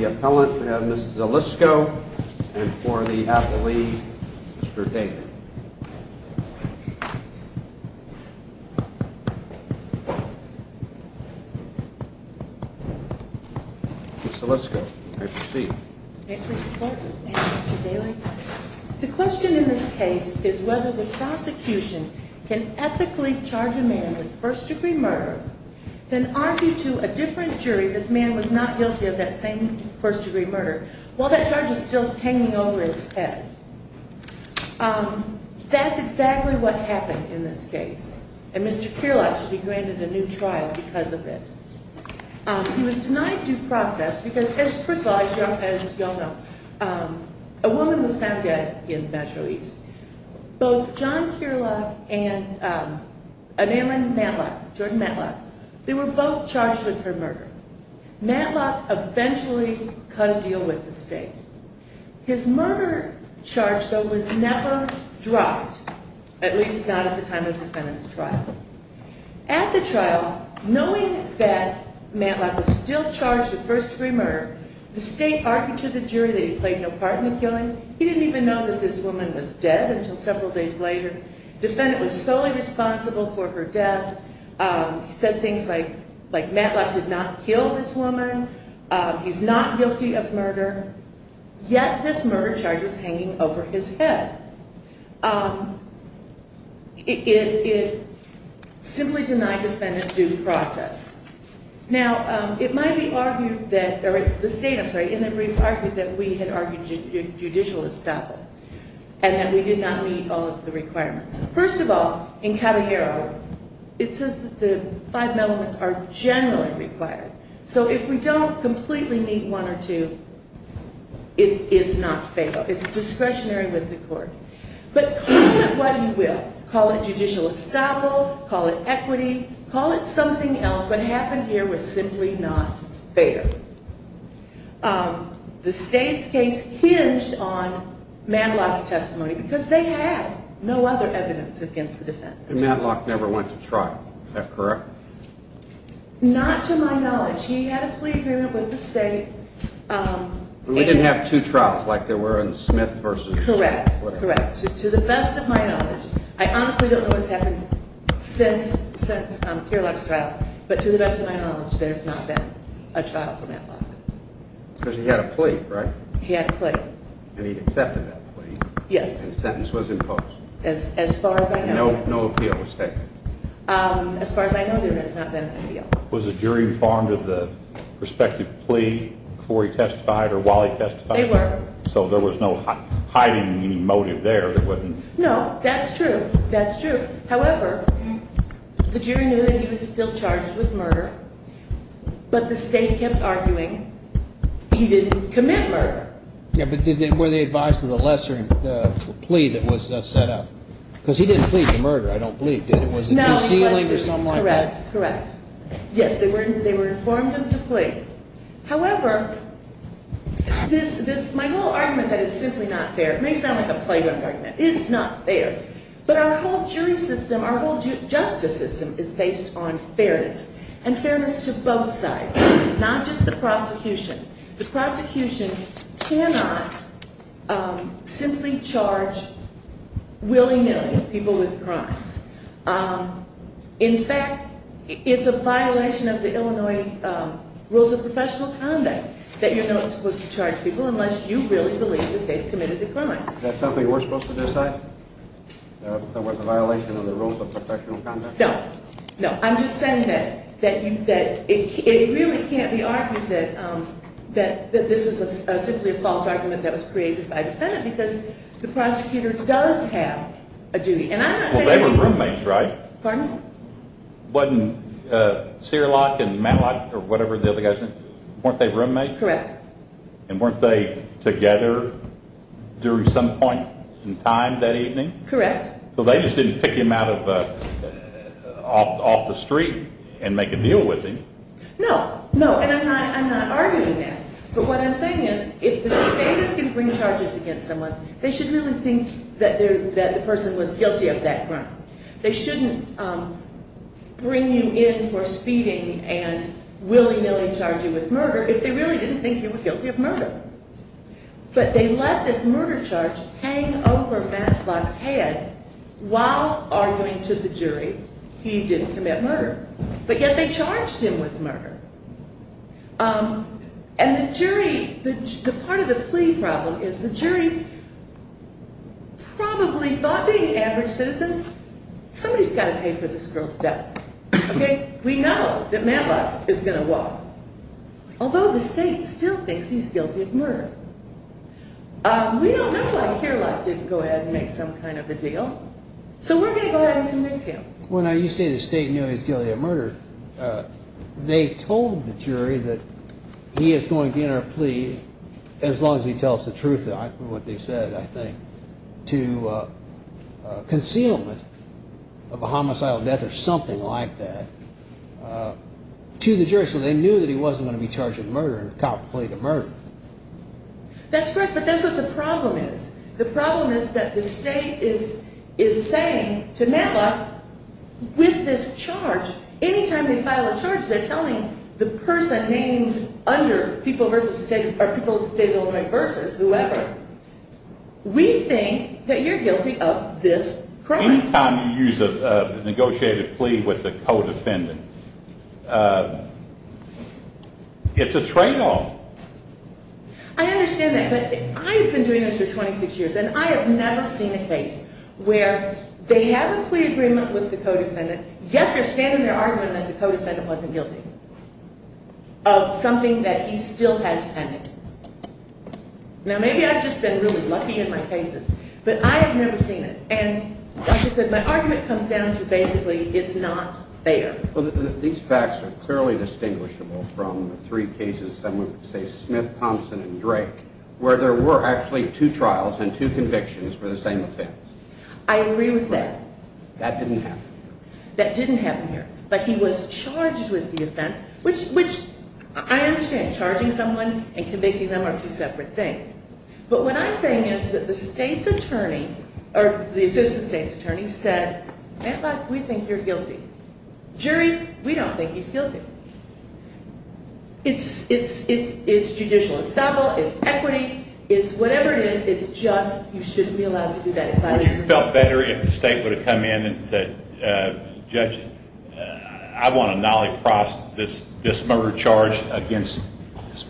Appellant Ms. Alisco and Appellate Mr. Daly Mr. Daly The question in this case is whether the prosecution can ethically charge a man with first degree murder than argue to a different jury that the man was not guilty of that same first degree murder while that charge was still hanging over his head. That's exactly what happened in this case. And Mr. Cearlock should be granted a new trial because of it. He was denied due process because, first of all, as you all know, a woman was found dead in Metro East. Both John Cearlock and a man named Matlock, Jordan Matlock, they were both charged with her murder. Matlock eventually cut a deal with the state. His murder charge, though, was never dropped, at least not at the time of the defendant's trial. At the trial, knowing that Matlock was still charged with first degree murder, the state argued to the jury that he played no part in the killing. He didn't even know that this woman was dead until several days later. Defendant was solely responsible for her death. He said things like Matlock did not kill this woman. He's not guilty of murder. Yet this murder charge is hanging over his head. It simply denied defendant due process. Now, it might be argued that, or the state, I'm sorry, in the brief argued that we had argued judicial estoppel and that we did not meet all of the requirements. First of all, in Caballero, it says that the five elements are generally required. So if we don't completely meet one or two, it's not fair. It's discretionary with the court. But call it what you will. Call it judicial estoppel. Call it equity. Call it something else. What happened here was simply not fair. The state's case hinged on Matlock's testimony because they had no other evidence against the defendant. And Matlock never went to trial. Is that correct? Not to my knowledge. He had a plea agreement with the state. We didn't have two trials like there were in Smith v. Woodard. Correct. To the best of my knowledge, I honestly don't know what's there's not been a trial for Matlock. Because he had a plea, right? He had a plea. And he accepted that plea. Yes. And the sentence was imposed. As far as I know. No appeal was taken. As far as I know, there has not been an appeal. Was the jury informed of the prospective plea before he testified or while he testified? They were. So there was no hiding motive there? No, that's true. That's true. However, the jury knew that he was still charged with murder. But the state kept arguing he didn't commit murder. Yeah, but were they advised of the lesser plea that was set up? Because he didn't plead for murder, I don't believe, did he? Was he sealing or something like that? Correct. Yes, they were informed of the plea. However, my whole argument that it's simply not fair, it may sound like a plagued argument. It's not fair. But our whole jury system, our whole justice system is based on fairness. And fairness to both sides. Not just the prosecution. The prosecution cannot simply charge willy-nilly people with crimes. In fact, it's a violation of the Illinois rules of professional conduct that you're not supposed to charge people unless you really believe that they've committed the crime. Is that something we're supposed to decide? That it was a violation of the rules of professional conduct? No. No. I'm just saying that it really can't be argued that this is simply a false argument that was created by the defendant because the prosecutor does have a duty. Well, they were roommates, right? Pardon? Wasn't Seerlock and Matlock or whatever the other guy's name, weren't they roommates? Correct. And weren't they together during some point in time that evening? Correct. So they just didn't pick him off the street and make a deal with him? No. No. And I'm not arguing that. But what I'm saying is if the state is going to bring charges against someone, they should really think that the person was guilty of that crime. They shouldn't bring you in for speeding and willy-nilly charge you with murder if they really didn't think you were guilty of murder. But they let this murder charge hang over Matlock's head while arguing to the jury he didn't commit murder. But yet they charged him with murder. And the jury, the part of the plea problem is the jury probably thought being average citizens, somebody's got to pay for this girl's death. OK? We know that Matlock is going to walk. Although the state still thinks he's guilty of murder. We don't know why Seerlock didn't go ahead and make some kind of a deal. So we're going to go ahead and convict him. Well, now, you say the state knew he was guilty of murder. They told the jury that he is going to enter a plea, as long as he tells the truth of what they said, I think, to concealment of a homicidal death or something like that to the jury. So they knew that he wasn't going to be charged with murder and contemplate a murder. That's correct. But that's what the problem is. The problem is that the state is saying to Matlock, with this charge, any time they file a charge, they're telling the person named under, people of the state of Illinois versus whoever, we think that you're guilty of this crime. Any time you use a negotiated plea with a co-defendant, it's a tradeoff. I understand that, but I've been doing this for 26 years, and I have never seen a case where they have a plea agreement with the co-defendant, yet they're standing there arguing that the co-defendant wasn't guilty of something that he still has pending. Now, maybe I've just been really lucky in my cases, but I have never seen it. And like I said, my argument comes down to basically it's not fair. Well, these facts are clearly distinguishable from the three cases, some would say Smith, Thompson, and Drake, where there were actually two trials and two convictions for the same offense. I agree with that. That didn't happen here. But he was charged with the offense, which I understand, charging someone and convicting them are two separate things. But what I'm saying is that the state's attorney, or the assistant state's attorney, said, Matlock, we think you're guilty. Jury, we don't think he's guilty. It's judicial estoppel, it's equity, it's whatever it is, it's just you shouldn't be allowed to do that. Would you have felt better if the state would have come in and said, judge, I want to nolly-cross this murder charge against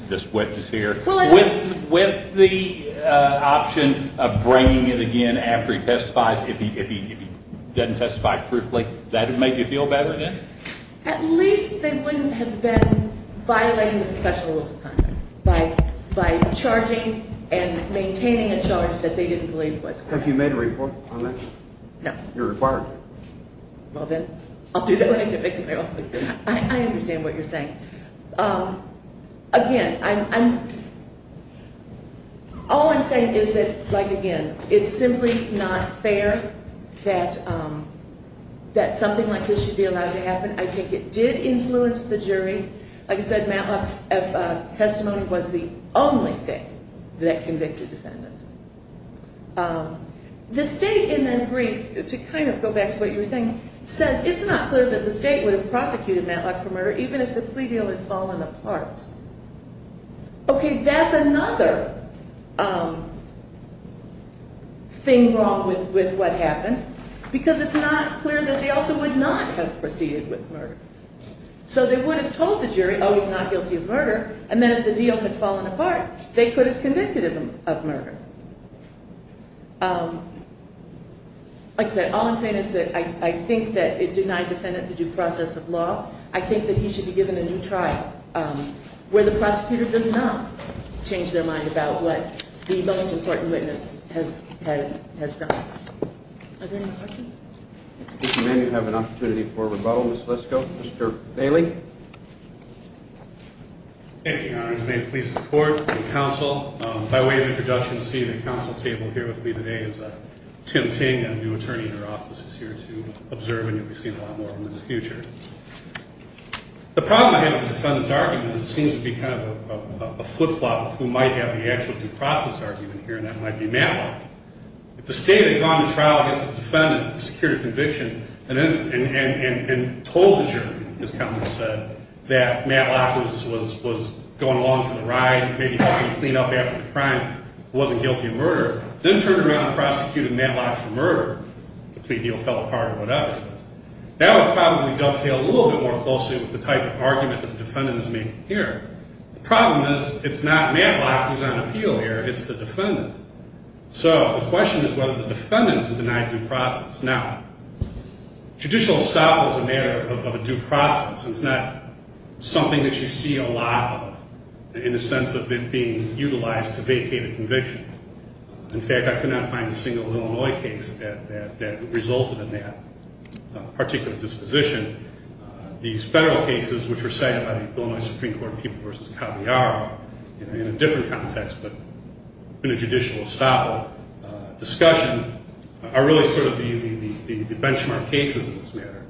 this witness here, with the option of bringing it again after he testifies if he doesn't testify truthfully? That would make you feel better then? At least they wouldn't have been violating the professional rules of conduct by charging and maintaining a charge that they didn't believe was correct. Have you made a report on that? No. You're required. Well then, I'll do that when I get back to my office. I understand what you're saying. Again, all I'm saying is that, like, again, it's simply not fair that something like this should be allowed to happen. I think it did influence the jury. Like I said, Matlock's testimony was the only thing that convicted the defendant. The state, in their brief, to kind of go back to what you were saying, says it's not clear that the state would have prosecuted Matlock for murder, even if the plea deal had fallen apart. Okay, that's another thing wrong with what happened, because it's not clear that they also would not have proceeded with murder. So they would have told the jury, oh, he's not guilty of murder, and then if the deal had fallen apart, they could have convicted him of murder. Like I said, all I'm saying is that I think that it denied the defendant the due process of law. I think that he should be given a new trial where the prosecutor does not change their mind about what the most important witness has done. Are there any more questions? If you may, we have an opportunity for rebuttal. Let's go. Mr. Bailey. Thank you, Your Honors. May it please the Court and the Council, by way of introduction to see the Council table here with me today is Tim Ting, a new attorney in our office, is here to observe, and you'll be seeing a lot more of him in the future. The problem I have with the defendant's argument is it seems to be kind of a flip-flop of who might have the actual due process argument here, and that might be Matlock. If the State had gone to trial against the defendant, secured a conviction, and told the jury, as counsel said, that Matlock was going along for the ride, maybe trying to clean up after the crime, wasn't guilty of murder, then turned around and prosecuted Matlock for murder, the plea deal fell apart or whatever, that would probably dovetail a little bit more closely with the type of argument that the defendant is making here. The problem is it's not Matlock who's on appeal here, it's the defendant. So the question is whether the defendant is denied due process. Now, judicial estoppel is a matter of a due process, and it's not something that you see a lot of, in the sense of it being utilized to vacate a conviction. In fact, I could not find a single Illinois case that resulted in that particular disposition. These federal cases, which were cited by the Illinois Supreme Court in People v. Caballaro, in a different context but in a judicial estoppel discussion, are really sort of the benchmark cases in this matter.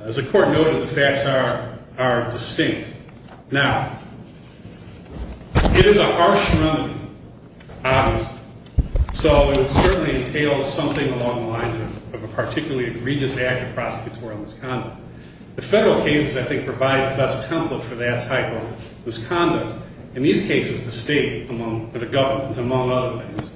As the Court noted, the facts are distinct. Now, it is a harsh remedy, obviously. So it certainly entails something along the lines of a particularly egregious act of prosecutorial misconduct. The federal cases, I think, provide the best template for that type of misconduct. In these cases, the state or the government, among other things,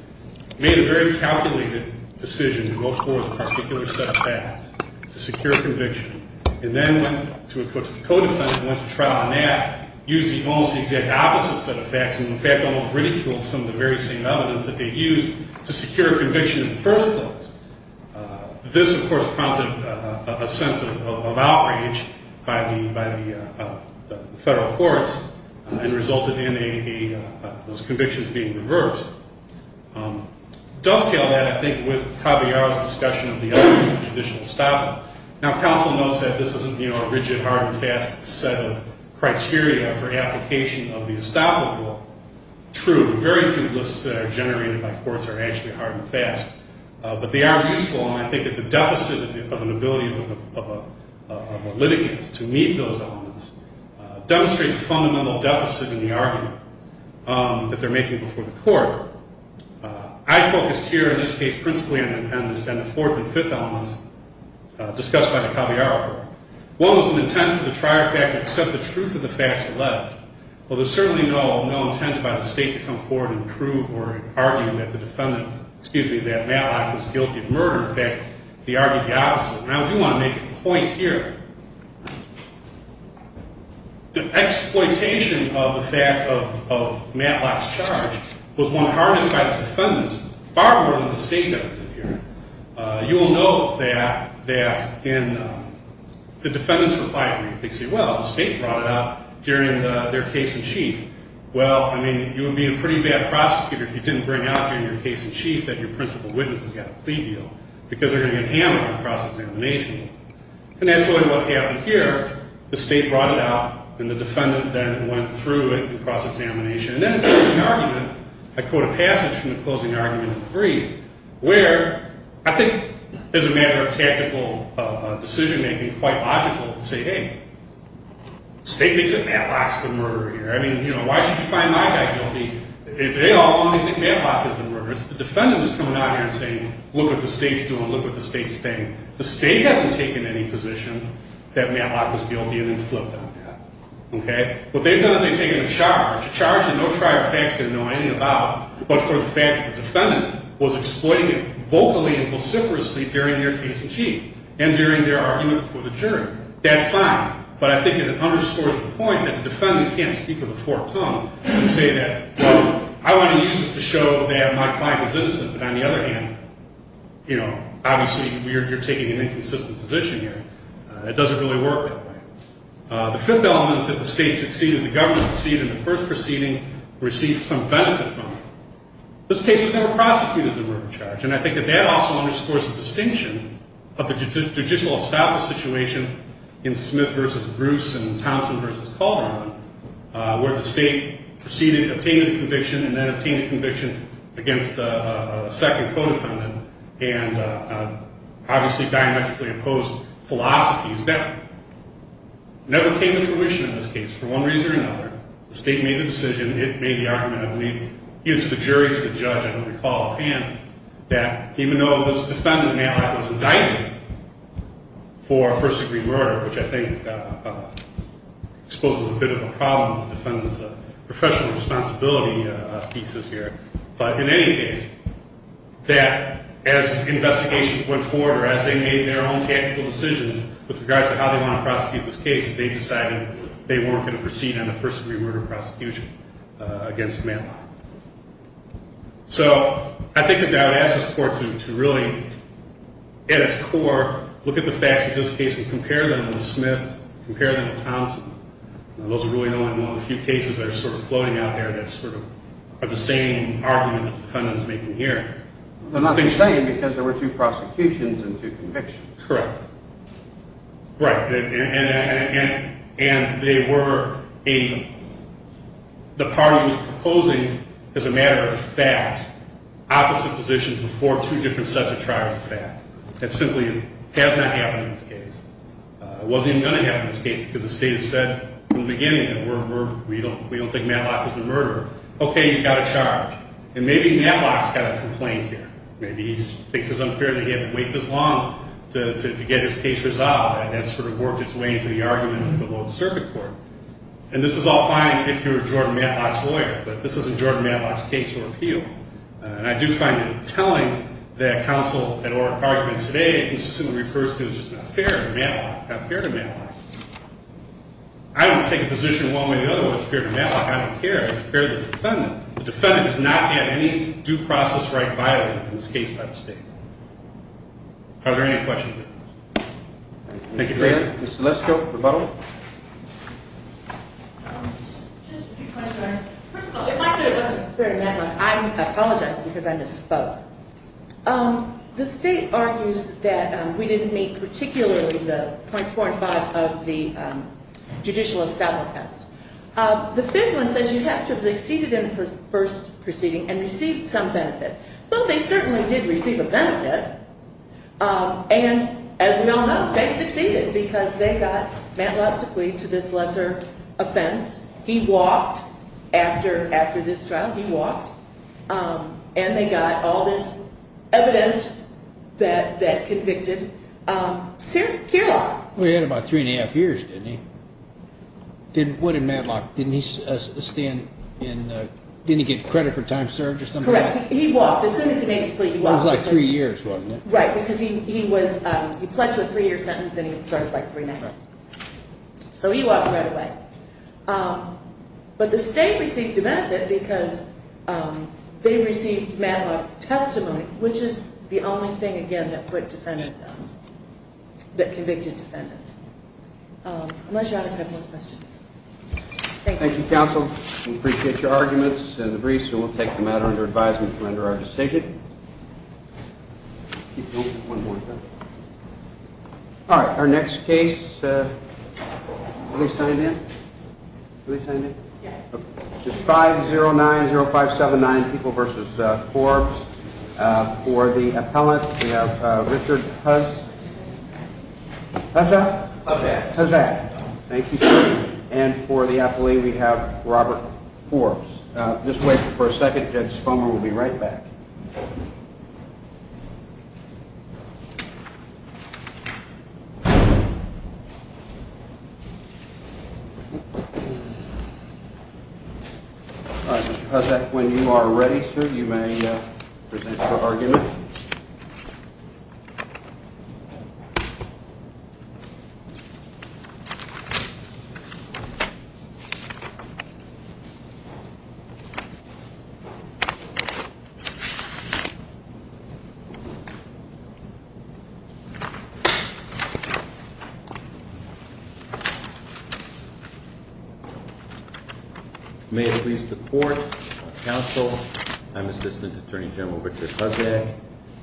made a very calculated decision to go forward with a particular set of facts to secure a conviction and then went to a co-defendant and went to trial on that, used almost the exact opposite set of facts and, in fact, almost ridiculed some of the very same evidence that they used to secure a conviction in the first place. This, of course, prompted a sense of outrage by the federal courts and resulted in those convictions being reversed. Dovetail that, I think, with Caballaro's discussion of the other use of judicial estoppel. Now, counsel notes that this isn't a rigid, hard, and fast set of criteria for application of the estoppel rule. True, the very few lists that are generated by courts are actually hard and fast. But they are useful, and I think that the deficit of an ability of a litigant to meet those elements demonstrates a fundamental deficit in the argument that they're making before the court. I focused here, in this case, principally on the defendants and the fourth and fifth elements discussed by Caballaro. One was an intent for the trier fact to accept the truth of the facts alleged. Well, there's certainly no intent by the state to come forward and prove or argue that the defendant, excuse me, that Matlock was guilty of murder. In fact, they argued the opposite. And I do want to make a point here. The exploitation of the fact of Matlock's charge was one harnessed by the defendants far more than the state did. You will note that in the defendants' reply brief, they say, well, the state brought it up during their case in chief. Well, I mean, you would be a pretty bad prosecutor if you didn't bring out during your case in chief that your principal witness has got a plea deal because they're going to get hammered in cross-examination. And that's really what happened here. The state brought it out, and the defendant then went through it in cross-examination. And then in the closing argument, I quote a passage from the closing argument in the brief where I think as a matter of tactical decision-making, quite logical to say, hey, the state thinks that Matlock's the murderer here. I mean, you know, why should you find my guy guilty if they all only think Matlock is the murderer? It's the defendants coming out here and saying, look what the state's doing, look what the state's saying. The state hasn't taken any position that Matlock was guilty and then flipped on that. Okay? What they've done is they've taken a charge, a charge that no trier of facts can know anything about, but for the fact that the defendant was exploiting it vocally and vociferously during their case in chief and during their argument for the jury. That's fine. But I think it underscores the point that the defendant can't speak with a forked tongue and say that, well, I want to use this to show that my client is innocent, but on the other hand, you know, obviously you're taking an inconsistent position here. It doesn't really work that way. The fifth element is that the state succeeded. The government succeeded in the first proceeding, received some benefit from it. This case was never prosecuted as a murder charge, and I think that that also underscores the distinction of the judicial establishment situation in Smith versus Bruce and Thompson versus Calderon where the state proceeded, obtained a conviction, and then obtained a conviction against a second co-defendant and obviously diametrically opposed philosophies. That never came to fruition in this case for one reason or another. The state made the decision. It made the argument, I believe, even to the jury, to the judge, I don't recall offhand, that even though this defendant now was indicted for first-degree murder, which I think exposes a bit of a problem to defendants of professional responsibility pieces here, but in any case, that as investigation went forward or as they made their own tactical decisions with regards to how they want to prosecute this case, they decided they weren't going to proceed on a first-degree murder prosecution against Manley. So I think that I would ask this court to really, at its core, look at the facts of this case and compare them with Smith, compare them with Thompson. Those are really only one of the few cases that are sort of floating out there that sort of are the same argument that the defendant is making here. They're not the same because there were two prosecutions and two convictions. Correct. Right. And they were even. The party was proposing, as a matter of fact, opposite positions before two different sets of trials, in fact. That simply has not happened in this case. It wasn't even going to happen in this case because the state has said from the beginning that we don't think Matlock is the murderer. Okay, you've got a charge. And maybe Matlock's got a complaint here. Maybe he thinks it's unfair that he had to wait this long to get his case resolved and it's sort of worked its way into the argument below the circuit court. And this is all fine if you're Jordan Matlock's lawyer, but this isn't Jordan Matlock's case or appeal. And I do find that telling that counsel an argument today consistently refers to as just not fair to Matlock. Not fair to Matlock. I don't take a position one way or the other on what's fair to Matlock. I don't care. It's fair to the defendant. The defendant does not have any due process right violated in this case by the state. Are there any questions? Thank you. Mr. Lesko, rebuttal. Just a few questions. First of all, if I said it wasn't fair to Matlock, I apologize because I misspoke. The state argues that we didn't meet particularly the points four and five of the judicial establishment test. The fifth one says you have to have succeeded in the first proceeding and received some benefit. Well, they certainly did receive a benefit. And as we all know, they succeeded because they got Matlock to plead to this lesser offense. He walked after this trial. He walked. And they got all this evidence that convicted Cyr Kearlock. He had about three and a half years, didn't he? What did Matlock? Didn't he get credit for time served or something like that? Correct. He walked. As soon as he made his plea, he walked. It was like three years, wasn't it? Right, because he pledged a three-year sentence and he served like three and a half. So he walked right away. But the state received a benefit because they received Matlock's testimony, which is the only thing, again, that convicted the defendant. Unless you have more questions. Thank you. Thank you, counsel. We appreciate your arguments and the briefs. And we'll take the matter under advisement to render our decision. All right. Our next case, are they signed in? Are they signed in? Yes. It's 5090579, People v. Forbes. For the appellant, we have Richard Hussack. Thank you, sir. And for the appellee, we have Robert Forbes. Just wait for a second. Judge Spomer will be right back. All right, Mr. Hussack, when you are ready, sir, you may present your argument. May it please the court, counsel, I'm Assistant Attorney General Richard Hussack,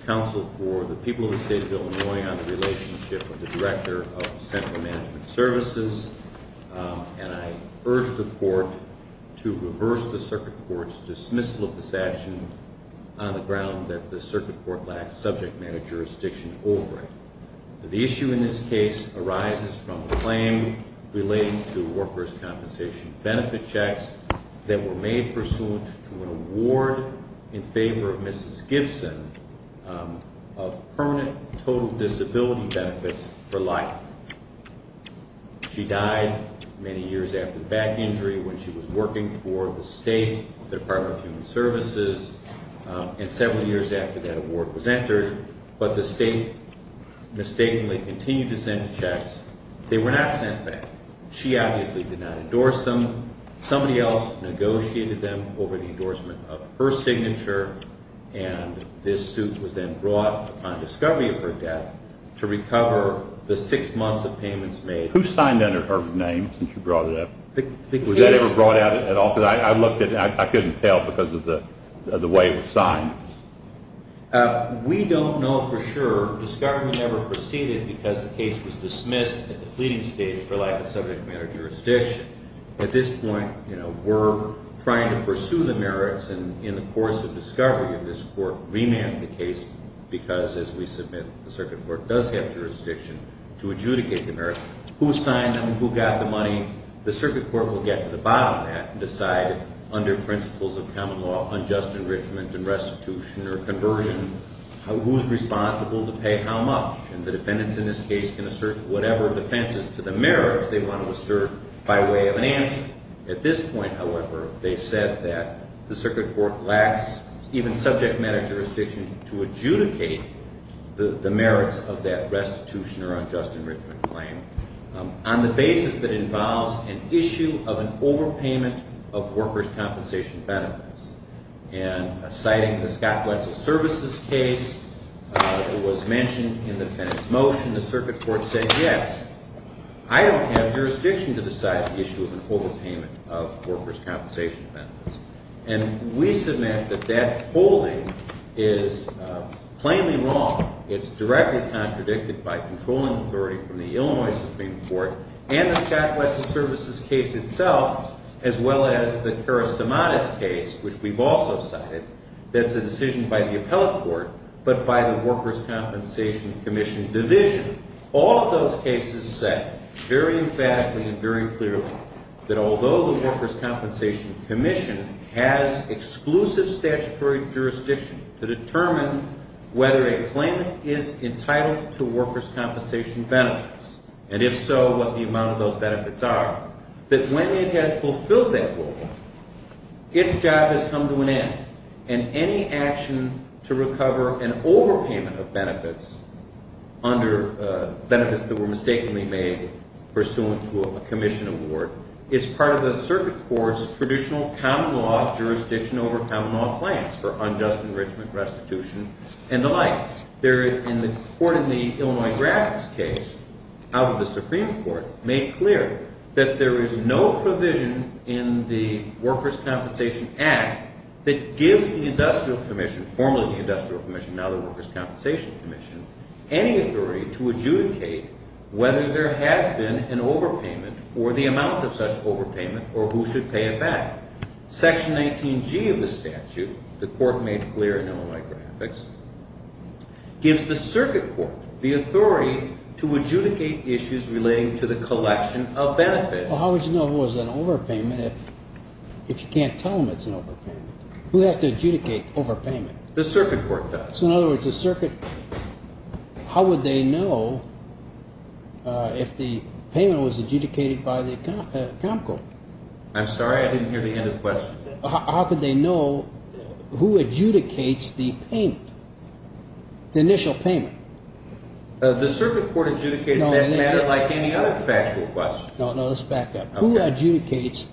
counsel for the people of the state of Illinois on the relationship of the Director of Central Management Services. And I urge the court to reverse the circuit court's dismissal of this action on the ground that the circuit court lacks subject matter jurisdiction over it. The issue in this case arises from a claim relating to workers' compensation benefit checks that were made pursuant to an award in favor of Mrs. Gibson of permanent total disability benefits for life. She died many years after the back injury when she was working for the state Department of Human Services, and several years after that award was entered. But the state mistakenly continued to send checks. They were not sent back. She obviously did not endorse them. Somebody else negotiated them over the endorsement of her signature, and this suit was then brought upon discovery of her death to recover the six months of payments made. Who signed under her name since you brought it up? Was that ever brought out at all? Because I looked at it and I couldn't tell because of the way it was signed. We don't know for sure. Discovery never proceeded because the case was dismissed at the pleading stage for lack of subject matter jurisdiction. At this point, we're trying to pursue the merits, and in the course of discovery of this court, remand the case because, as we submit, the circuit court does have jurisdiction to adjudicate the merits. Who signed them? Who got the money? The circuit court will get to the bottom of that and decide under principles of common law, unjust enrichment and restitution or conversion, who's responsible to pay how much. And the defendants in this case can assert whatever defenses to the merits they want to assert by way of an answer. At this point, however, they said that the circuit court lacks even subject matter jurisdiction to adjudicate the merits of that restitution or unjust enrichment claim on the basis that it involves an issue of an overpayment of workers' compensation benefits. And citing the Scott Wetzel Services case, it was mentioned in the defendant's motion, the circuit court said, yes, I don't have jurisdiction to decide the issue of an overpayment of workers' compensation benefits. And we submit that that holding is plainly wrong. It's directly contradicted by controlling authority from the Illinois Supreme Court and the Scott Wetzel Services case itself, as well as the Karastamatis case, which we've also cited, that's a decision by the appellate court, but by the Workers' Compensation Commission division. All of those cases said very emphatically and very clearly that although the Workers' Compensation Commission has exclusive statutory jurisdiction to determine whether a claim is entitled to workers' compensation benefits, and if so, what the amount of those benefits are, that when it has fulfilled that goal, its job has come to an end. And any action to recover an overpayment of benefits under benefits that were mistakenly made pursuant to a commission award is part of the circuit court's traditional common law jurisdiction over common law claims for unjust enrichment, restitution, and the like. The court in the Illinois graphics case out of the Supreme Court made clear that there is no provision in the Workers' Compensation Act that gives the Industrial Commission, formerly the Industrial Commission, now the Workers' Compensation Commission, any authority to adjudicate whether there has been an overpayment or the amount of such overpayment or who should pay it back. Section 19G of the statute, the court made clear in Illinois graphics, gives the circuit court the authority to adjudicate issues relating to the collection of benefits. Well, how would you know if it was an overpayment if you can't tell them it's an overpayment? Who has to adjudicate overpayment? The circuit court does. So in other words, the circuit, how would they know if the payment was adjudicated by the account court? I'm sorry, I didn't hear the end of the question. How could they know who adjudicates the payment, the initial payment? The circuit court adjudicates that matter like any other factual question. No, no, let's back up. Who adjudicates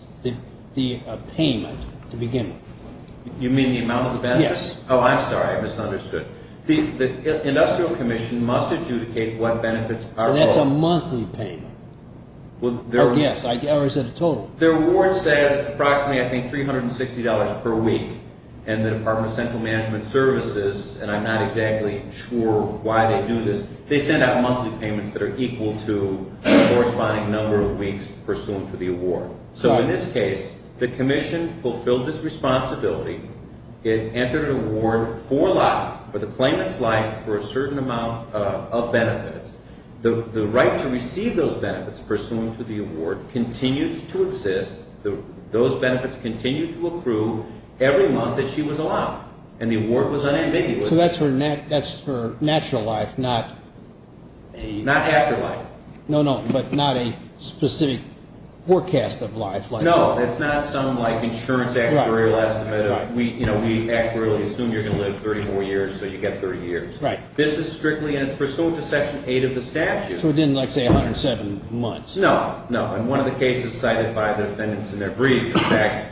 the payment to begin with? You mean the amount of the benefits? Yes. Oh, I'm sorry, I misunderstood. The Industrial Commission must adjudicate what benefits are owed. That's a monthly payment. Oh, yes, or is it a total? The award says approximately, I think, $360 per week, and the Department of Central Management Services, and I'm not exactly sure why they do this, they send out monthly payments that are equal to the corresponding number of weeks pursuant to the award. So in this case, the commission fulfilled its responsibility. It entered an award for the claimant's life for a certain amount of benefits. The right to receive those benefits pursuant to the award continues to exist. Those benefits continue to accrue every month that she was allowed, and the award was unambiguous. So that's for natural life, not after life. No, no, but not a specific forecast of life. No, it's not some, like, insurance actuarial estimate. We actually assume you're going to live 30 more years, so you get 30 years. Right. This is strictly pursuant to Section 8 of the statute. So it didn't, like, say 107 months. No, no, and one of the cases cited by the defendants in their brief, in fact,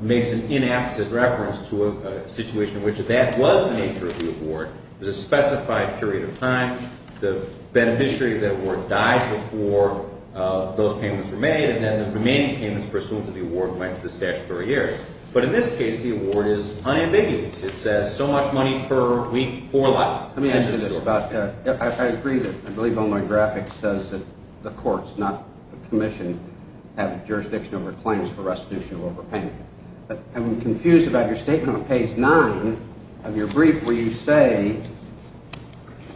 makes an inapposite reference to a situation in which that was the nature of the award. It was a specified period of time. The beneficiary of that award died before those payments were made, and then the remaining payments pursuant to the award went to the statutory heirs. But in this case, the award is unambiguous. It says so much money per week for life. Let me ask you this. I agree that I believe Illinois graphics says that the courts, not the commission, have jurisdiction over claims for restitution of overpayment. But I'm confused about your statement on page 9 of your brief where you say,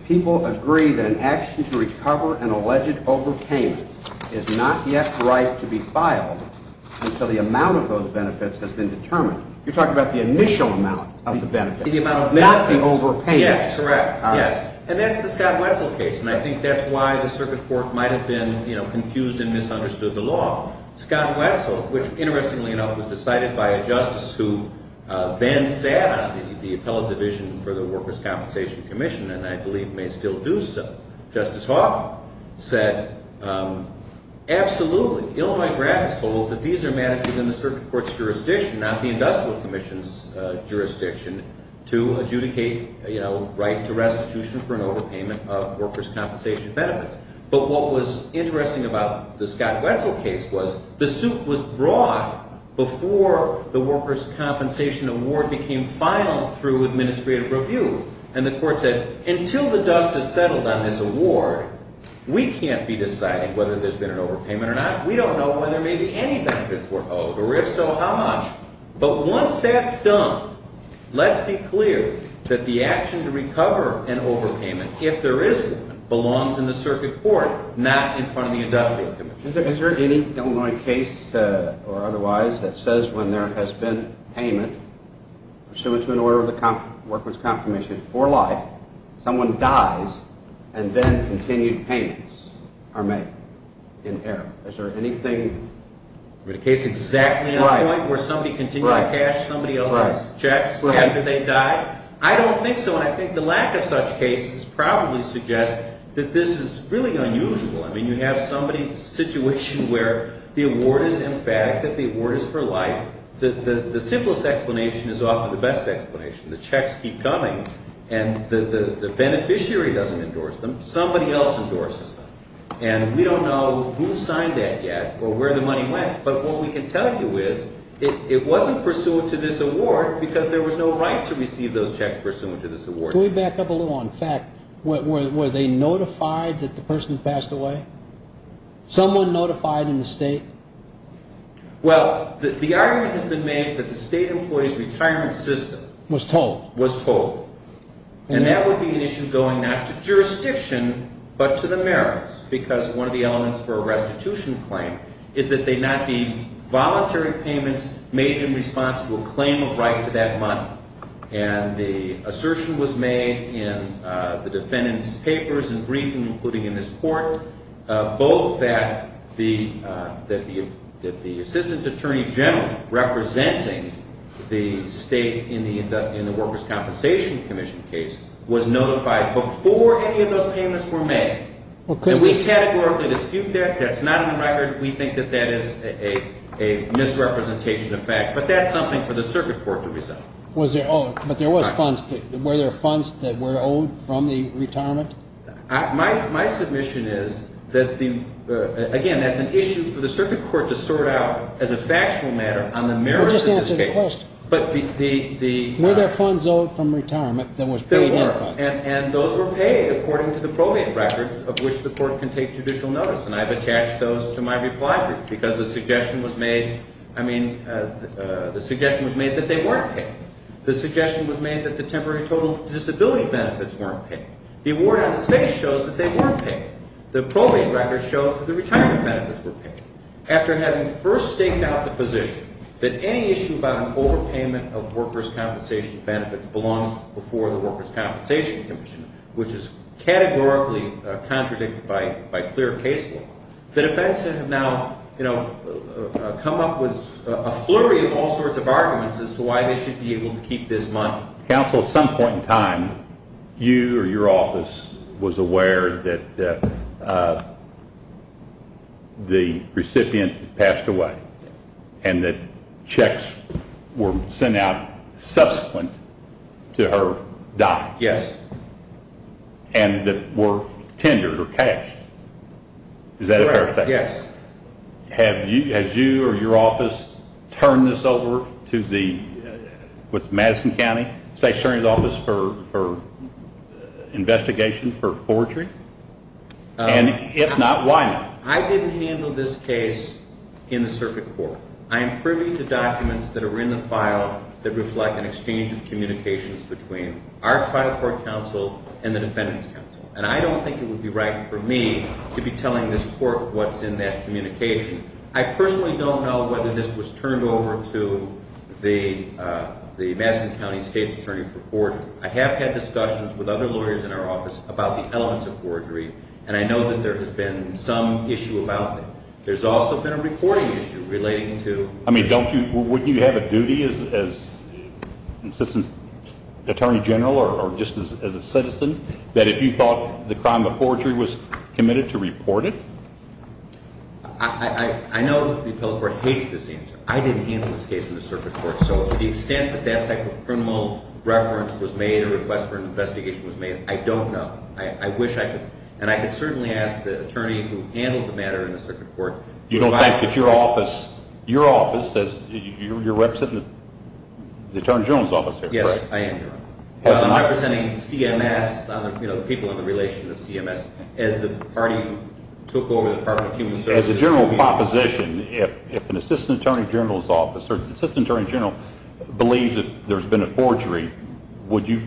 people agree that an action to recover an alleged overpayment is not yet right to be filed until the amount of those benefits has been determined. You're talking about the initial amount of the benefits. The amount of benefits. Not the overpayment. Yes, correct. Yes, and that's the Scott Wetzel case, and I think that's why the circuit court might have been confused and misunderstood the law. Scott Wetzel, which, interestingly enough, was decided by a justice who then sat on the appellate division for the Workers' Compensation Commission and I believe may still do so. Justice Hoff said, absolutely, Illinois graphics holds that these are matters within the circuit court's jurisdiction, not the industrial commission's jurisdiction, to adjudicate, you know, right to restitution for an overpayment of workers' compensation benefits. But what was interesting about the Scott Wetzel case was the suit was brought before the workers' compensation award became final through administrative review, and the court said, until the dust has settled on this award, we can't be deciding whether there's been an overpayment or not. We don't know whether maybe any benefits were owed, or if so, how much. But once that's done, let's be clear that the action to recover an overpayment, if there is one, belongs in the circuit court, not in front of the industrial commission. Is there any Illinois case or otherwise that says when there has been payment pursuant to an order of the workers' compensation for life, someone dies, and then continued payments are made in error? Is there anything? Is there a case exactly on point where somebody continued to cash somebody else's checks after they died? I don't think so, and I think the lack of such cases probably suggests that this is really unusual. I mean, you have somebody, a situation where the award is, in fact, that the award is for life. The simplest explanation is often the best explanation. The checks keep coming, and the beneficiary doesn't endorse them. Somebody else endorses them. And we don't know who signed that yet or where the money went, but what we can tell you is it wasn't pursuant to this award because there was no right to receive those checks pursuant to this award. Can we back up a little? In fact, were they notified that the person passed away? Someone notified in the state? Well, the argument has been made that the state employee's retirement system was told. Was told. And that would be an issue going not to jurisdiction but to the merits because one of the elements for a restitution claim is that they not be voluntary payments made in response to a claim of right to that money. And the assertion was made in the defendant's papers and briefing, including in this court, both that the assistant attorney general representing the state in the workers' compensation commission case was notified before any of those payments were made. And we categorically dispute that. That's not in the record. We think that that is a misrepresentation of fact. But that's something for the circuit court to resolve. But there was funds. Were there funds that were owed from the retirement? My submission is that, again, that's an issue for the circuit court to sort out as a factual matter on the merits. Just answer the question. Were there funds owed from retirement that was paid in funds? There were. And those were paid according to the probate records of which the court can take judicial notice. And I've attached those to my reply brief because the suggestion was made. I mean, the suggestion was made that they weren't paid. The suggestion was made that the temporary total disability benefits weren't paid. The award out of space shows that they weren't paid. The probate records show that the retirement benefits were paid. After having first staked out the position that any issue about an overpayment of workers' compensation benefits belongs before the workers' compensation commission, which is categorically contradicted by clear case law, the defense has now come up with a flurry of all sorts of arguments as to why they should be able to keep this money. Counsel, at some point in time, you or your office was aware that the recipient had passed away and that checks were sent out subsequent to her death and that were tendered or cashed. Is that a fair statement? Yes. Has you or your office turned this over to the Madison County State Attorney's Office for investigation for forgery? And if not, why not? I didn't handle this case in the circuit court. I am privy to documents that are in the file that reflect an exchange of communications between our trial court counsel and the defendant's counsel. And I don't think it would be right for me to be telling this court what's in that communication. I personally don't know whether this was turned over to the Madison County State's Attorney for forgery. I have had discussions with other lawyers in our office about the elements of forgery, and I know that there has been some issue about it. There's also been a reporting issue relating to… I mean, don't you – wouldn't you have a duty as Assistant Attorney General or just as a citizen that if you thought the crime of forgery was committed to report it? I know that the appellate court hates this answer. I didn't handle this case in the circuit court, so to the extent that that type of criminal reference was made or request for an investigation was made, I don't know. I wish I could – and I could certainly ask the attorney who handled the matter in the circuit court. You don't think that your office – your office – you're representing the Attorney General's office here, correct? Yes, I am, Your Honor. I'm representing CMS, the people in the relation of CMS, as the party who took over the Department of Human Services. As a general proposition, if an Assistant Attorney General's office or the Assistant Attorney General believes that there's been a forgery, would you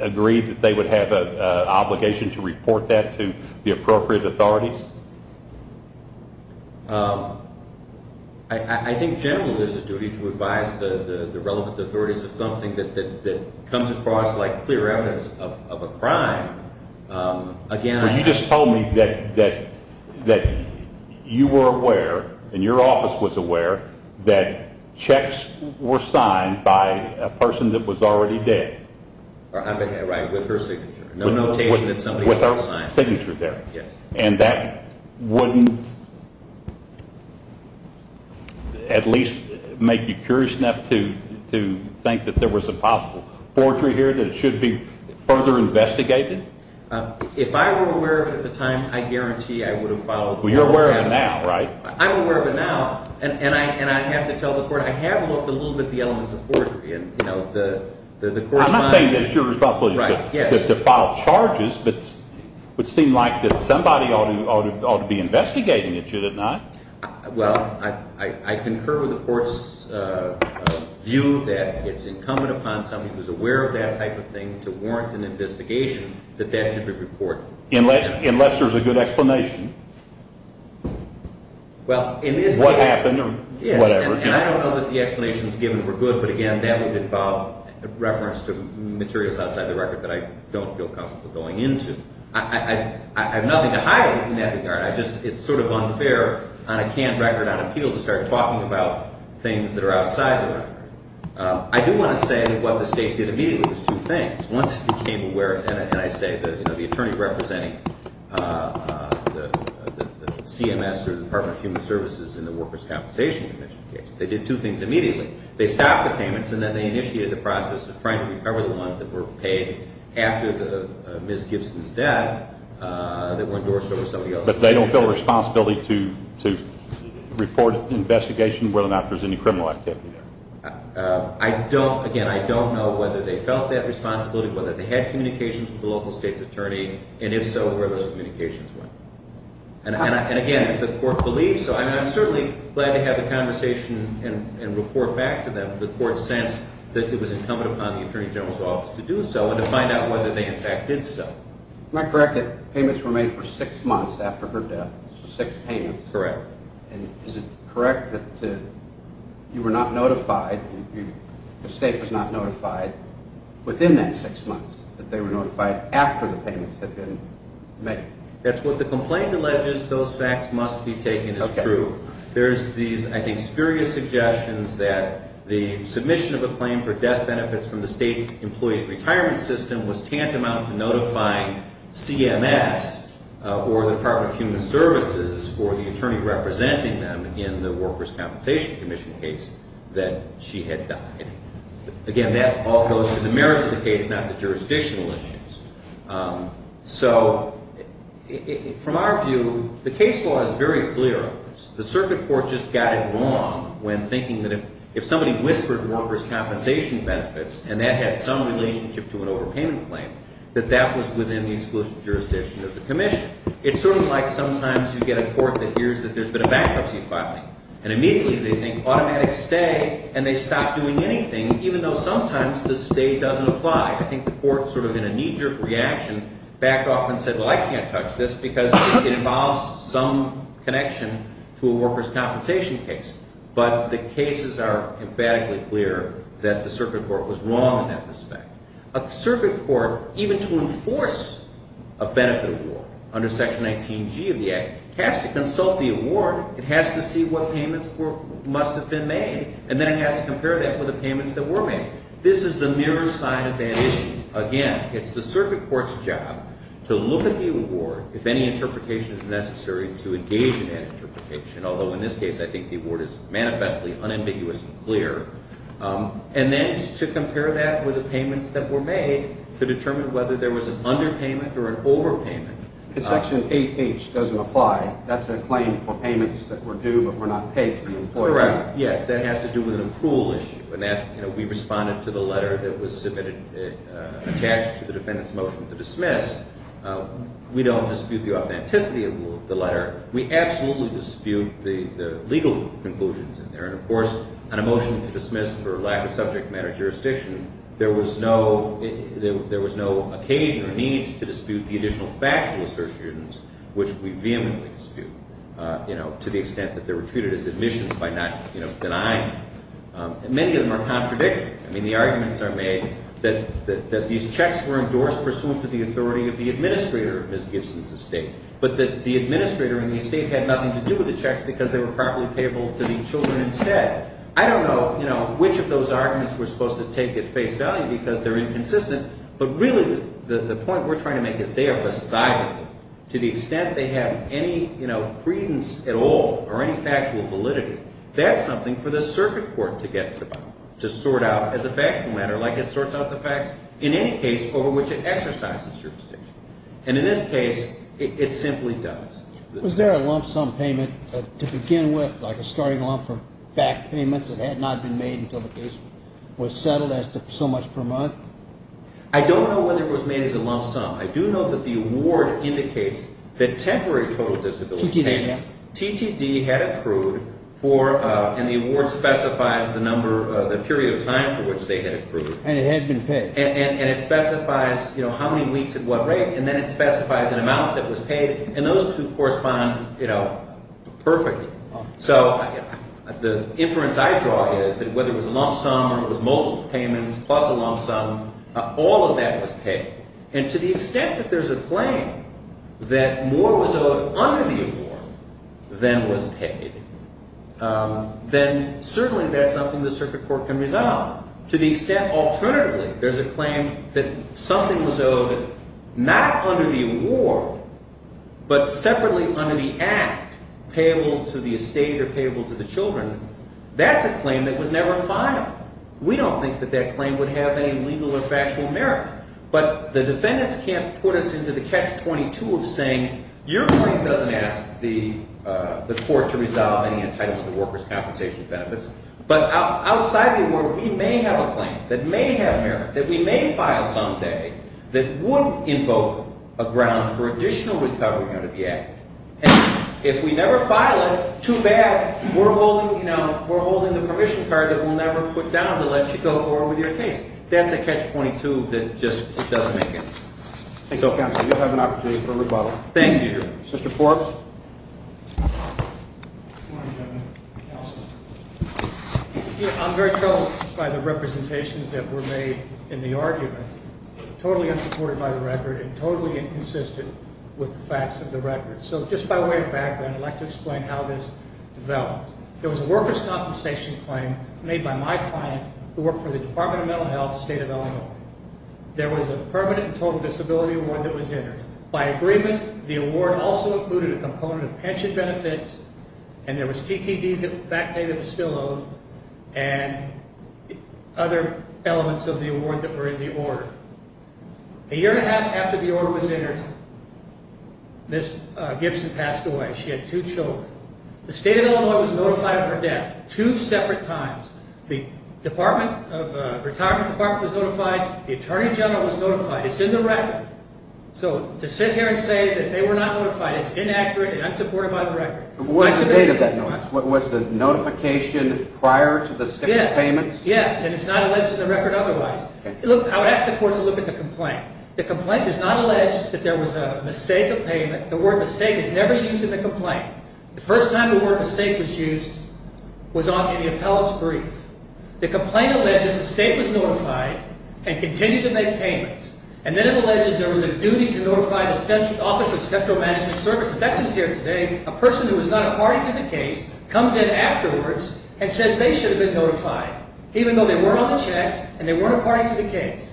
agree that they would have an obligation to report that to the appropriate authorities? I think generally there's a duty to advise the relevant authorities of something that comes across like clear evidence of a crime. Again, I – Well, you just told me that you were aware and your office was aware that checks were signed by a person that was already dead. Right, with her signature. No notation that somebody else signed. With her signature there. Yes. And that wouldn't at least make you curious enough to think that there was a possible forgery here that it should be further investigated? If I were aware of it at the time, I guarantee I would have followed all the steps. Well, you're aware of it now, right? I'm aware of it now, and I have to tell the court I have looked a little bit at the elements of forgery, and the court finds – It doesn't seem like that somebody ought to be investigating it, should it not? Well, I concur with the court's view that it's incumbent upon somebody who's aware of that type of thing to warrant an investigation that that should be reported. Unless there's a good explanation. Well, in this case – What happened or whatever. And I don't know that the explanations given were good, but again, that would involve reference to materials outside the record that I don't feel comfortable going into. I have nothing to hide in that regard. It's sort of unfair on a canned record on appeal to start talking about things that are outside the record. I do want to say what the State did immediately was two things. Once it became aware – and I say the attorney representing CMS or the Department of Human Services in the Workers' Compensation Commission case. They did two things immediately. They stopped the payments, and then they initiated the process of trying to recover the ones that were paid after Ms. Gibson's death that were endorsed over somebody else's. But they don't feel a responsibility to report an investigation whether or not there's any criminal activity there? I don't – again, I don't know whether they felt that responsibility, whether they had communications with the local state's attorney, and if so, where those communications went. And again, if the court believes so – I mean, I'm certainly glad to have the conversation and report back to them. The court sensed that it was incumbent upon the Attorney General's Office to do so and to find out whether they in fact did so. Am I correct that payments were made for six months after her death? Six payments. Correct. And is it correct that you were not notified – the state was not notified within that six months that they were notified after the payments had been made? That's what the complaint alleges. Those facts must be taken as true. Okay. There's these, I think, spurious suggestions that the submission of a claim for death benefits from the state employee's retirement system was tantamount to notifying CMS or the Department of Human Services or the attorney representing them in the Workers' Compensation Commission case that she had died. Again, that all goes to the merits of the case, not the jurisdictional issues. So from our view, the case law is very clear on this. The circuit court just got it wrong when thinking that if somebody whispered workers' compensation benefits and that had some relationship to an overpayment claim, that that was within the exclusive jurisdiction of the commission. It's sort of like sometimes you get a court that hears that there's been a bankruptcy filing, and immediately they think automatic stay, and they stop doing anything, even though sometimes the stay doesn't apply. I think the court sort of in a knee-jerk reaction backed off and said, well, I can't touch this because it involves some connection to a workers' compensation case. But the cases are emphatically clear that the circuit court was wrong in that respect. A circuit court, even to enforce a benefit award under Section 19G of the Act, has to consult the award. It has to see what payments must have been made, and then it has to compare that with the payments that were made. This is the mirror side of that issue. Again, it's the circuit court's job to look at the award, if any interpretation is necessary, to engage in that interpretation, although in this case I think the award is manifestly unambiguous and clear, and then to compare that with the payments that were made to determine whether there was an underpayment or an overpayment. Because Section 8H doesn't apply. That's a claim for payments that were due but were not paid to the employer. Yes, that has to do with an approval issue, and we responded to the letter that was submitted attached to the defendant's motion to dismiss. We don't dispute the authenticity of the letter. We absolutely dispute the legal conclusions in there, and, of course, on a motion to dismiss for lack of subject matter jurisdiction, there was no occasion or need to dispute the additional factual assertions, which we vehemently dispute, to the extent that they were treated as admissions by not denying them. Many of them are contradictory. I mean, the arguments are made that these checks were endorsed pursuant to the authority of the administrator of Ms. Gibson's estate, but that the administrator and the estate had nothing to do with the checks because they were properly payable to the children instead. I don't know, you know, which of those arguments we're supposed to take at face value because they're inconsistent, but really the point we're trying to make is they are beside them. To the extent they have any, you know, credence at all or any factual validity, that's something for the circuit court to get to the bottom, to sort out as a factual matter like it sorts out the facts in any case over which it exercises jurisdiction. And in this case, it simply does. Was there a lump sum payment to begin with, like a starting lump for back payments that had not been made until the case was settled as to so much per month? I don't know whether it was made as a lump sum. I do know that the award indicates that temporary total disability payments, TTD had accrued for, and the award specifies the number, the period of time for which they had accrued. And it had been paid. And it specifies, you know, how many weeks at what rate, and then it specifies an amount that was paid. And those two correspond, you know, perfectly. So the inference I draw is that whether it was a lump sum or it was multiple payments plus a lump sum, all of that was paid. And to the extent that there's a claim that more was owed under the award than was paid, then certainly that's something the circuit court can resolve. To the extent, alternatively, there's a claim that something was owed not under the award but separately under the act, payable to the estate or payable to the children, that's a claim that was never filed. We don't think that that claim would have any legal or factual merit. But the defendants can't put us into the catch-22 of saying your claim doesn't ask the court to resolve any entitlement to workers' compensation benefits. But outside the award, we may have a claim that may have merit, that we may file someday, that would invoke a ground for additional recovery under the act. And if we never file it, too bad. We're holding, you know, we're holding the permission card that we'll never put down to let you go forward with your case. That's a catch-22 that just doesn't make sense. Thank you, counsel. You'll have an opportunity for rebuttal. Thank you. Mr. Forbes. Good morning, gentlemen. Counsel. I'm very troubled by the representations that were made in the argument, totally unsupported by the record and totally inconsistent with the facts of the record. So just by way of background, I'd like to explain how this developed. There was a workers' compensation claim made by my client who worked for the Department of Mental Health, State of Illinois. There was a permanent and total disability award that was entered. By agreement, the award also included a component of pension benefits, and there was TTD back pay that was still owed, and other elements of the award that were in the order. A year and a half after the order was entered, Ms. Gibson passed away. She had two children. The State of Illinois was notified of her death two separate times. The Department of Retirement Department was notified. The Attorney General was notified. It's in the record. So to sit here and say that they were not notified is inaccurate and unsupported by the record. What was the date of that notice? Was the notification prior to the state's payments? Yes, and it's not alleged in the record otherwise. Look, I would ask the court to look at the complaint. The complaint does not allege that there was a mistake of payment. The word mistake is never used in the complaint. The first time the word mistake was used was in the appellate's brief. The complaint alleges the state was notified and continued to make payments, and then it alleges there was a duty to notify the Office of Central Management Services. That's in here today. A person who was not a party to the case comes in afterwards and says they should have been notified, even though they were on the checks and they weren't a party to the case.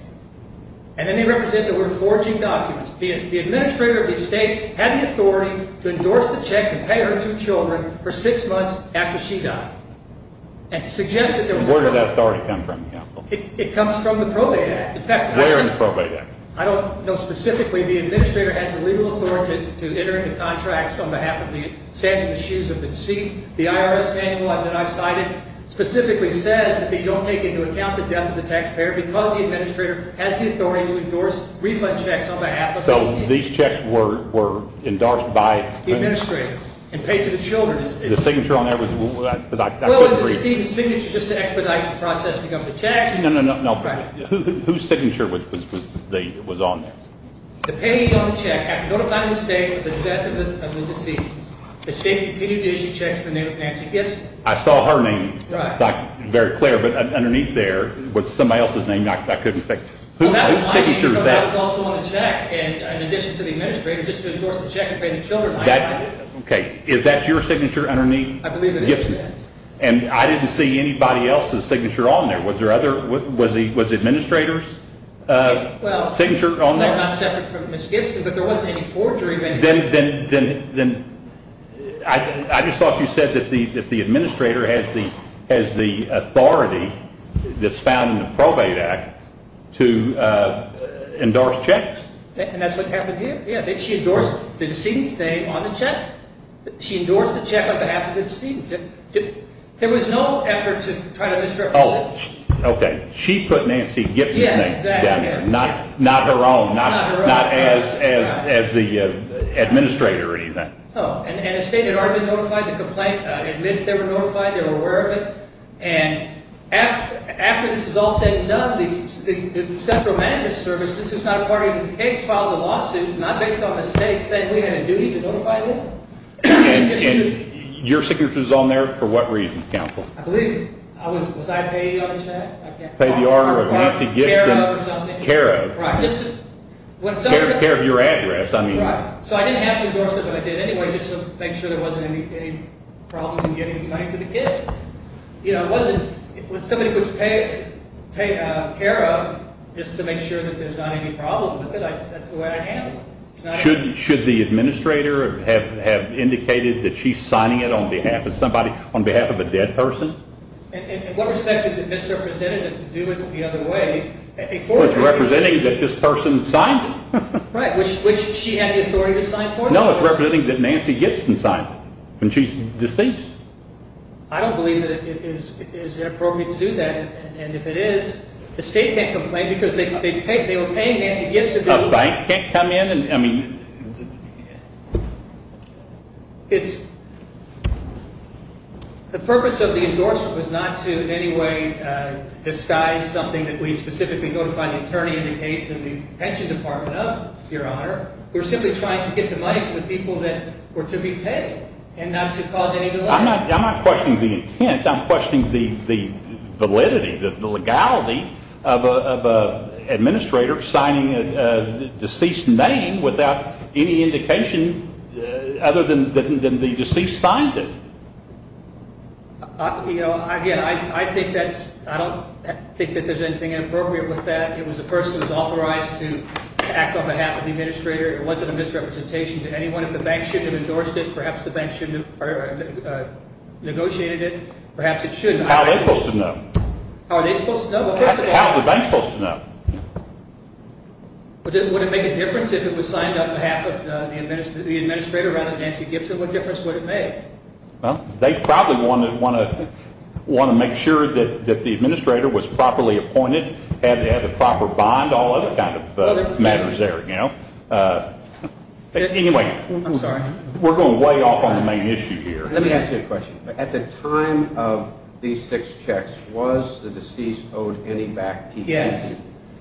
And then they represent the word forging documents. The administrator of the state had the authority to endorse the checks and pay her two children for six months after she died. Where did that authority come from? It comes from the Probate Act. Where in the Probate Act? I don't know specifically. The administrator has the legal authority to enter into contracts on behalf of the stance of the shoes of the deceased. The IRS manual that I've cited specifically says that they don't take into account the death of the taxpayer because the administrator has the authority to endorse refund checks on behalf of the deceased. So these checks were endorsed by the administrator and paid to the children. The signature on that? Well, it's the deceased's signature just to expedite the processing of the checks. No, no, no. Whose signature was on there? The payee on the check after notifying the state of the death of the deceased. The state continued to issue checks in the name of Nancy Gibbs. I saw her name. Right. Very clear, but underneath there was somebody else's name I couldn't think of. Whose signature is that? Well, that was my name because I was also on the check, in addition to the administrator, just to endorse the check and pay the children. Okay, is that your signature underneath Gibson's? I believe it is. And I didn't see anybody else's signature on there. Was the administrator's signature on there? Well, they're not separate from Ms. Gibson, but there wasn't any forgery. Then I just thought you said that the administrator has the authority that's found in the Probate Act to endorse checks. And that's what happened here. She endorsed the decedent's name on the check. She endorsed the check on behalf of the decedent. There was no effort to try to misrepresent. Oh, okay. She put Nancy Gibson's name down there. Yes, exactly. Not her own. Not as the administrator or anything. Oh, and the state had already notified the complaint, admitted they were notified, they were aware of it. And after this was all said and done, the central management service, this was not a part of the case, filed a lawsuit, not based on the state, saying we had a duty to notify them. And your signature is on there for what reason, counsel? I believe, was I paying on the check? Pay the order of Nancy Gibson? CARA or something. CARA. Right. CARA of your address, I mean. Right. So I didn't have to endorse it, but I did anyway just to make sure there wasn't any problems in giving money to the kids. You know, it wasn't, when somebody would pay CARA just to make sure that there's not any problem with it, that's the way I handled it. Should the administrator have indicated that she's signing it on behalf of somebody, on behalf of a dead person? In what respect is it misrepresentative to do it the other way? It's representing that this person signed it. Right, which she had the authority to sign for. No, it's representing that Nancy Gibson signed it when she's deceased. I don't believe that it is appropriate to do that. And if it is, the state can't complain because they were paying Nancy Gibson. A bank can't come in and, I mean. It's, the purpose of the endorsement was not to in any way disguise something that we specifically notified the attorney in the case of the pension department of, we're simply trying to get the money to the people that were to be paid and not to cause any delay. I'm not questioning the intent. I'm questioning the validity, the legality of an administrator signing a deceased name without any indication other than the deceased signed it. You know, again, I think that's, I don't think that there's anything inappropriate with that. It was a person who was authorized to act on behalf of the administrator. It wasn't a misrepresentation to anyone. If the bank shouldn't have endorsed it, perhaps the bank shouldn't have negotiated it. Perhaps it should. How are they supposed to know? How are they supposed to know? How is the bank supposed to know? Would it make a difference if it was signed on behalf of the administrator rather than Nancy Gibson? What difference would it make? Well, they probably want to make sure that the administrator was properly appointed, had the proper bond, all other kind of matters there, you know. Anyway, we're going way off on the main issue here. Let me ask you a question. At the time of these six checks, was the deceased owed any back TTD? Yes.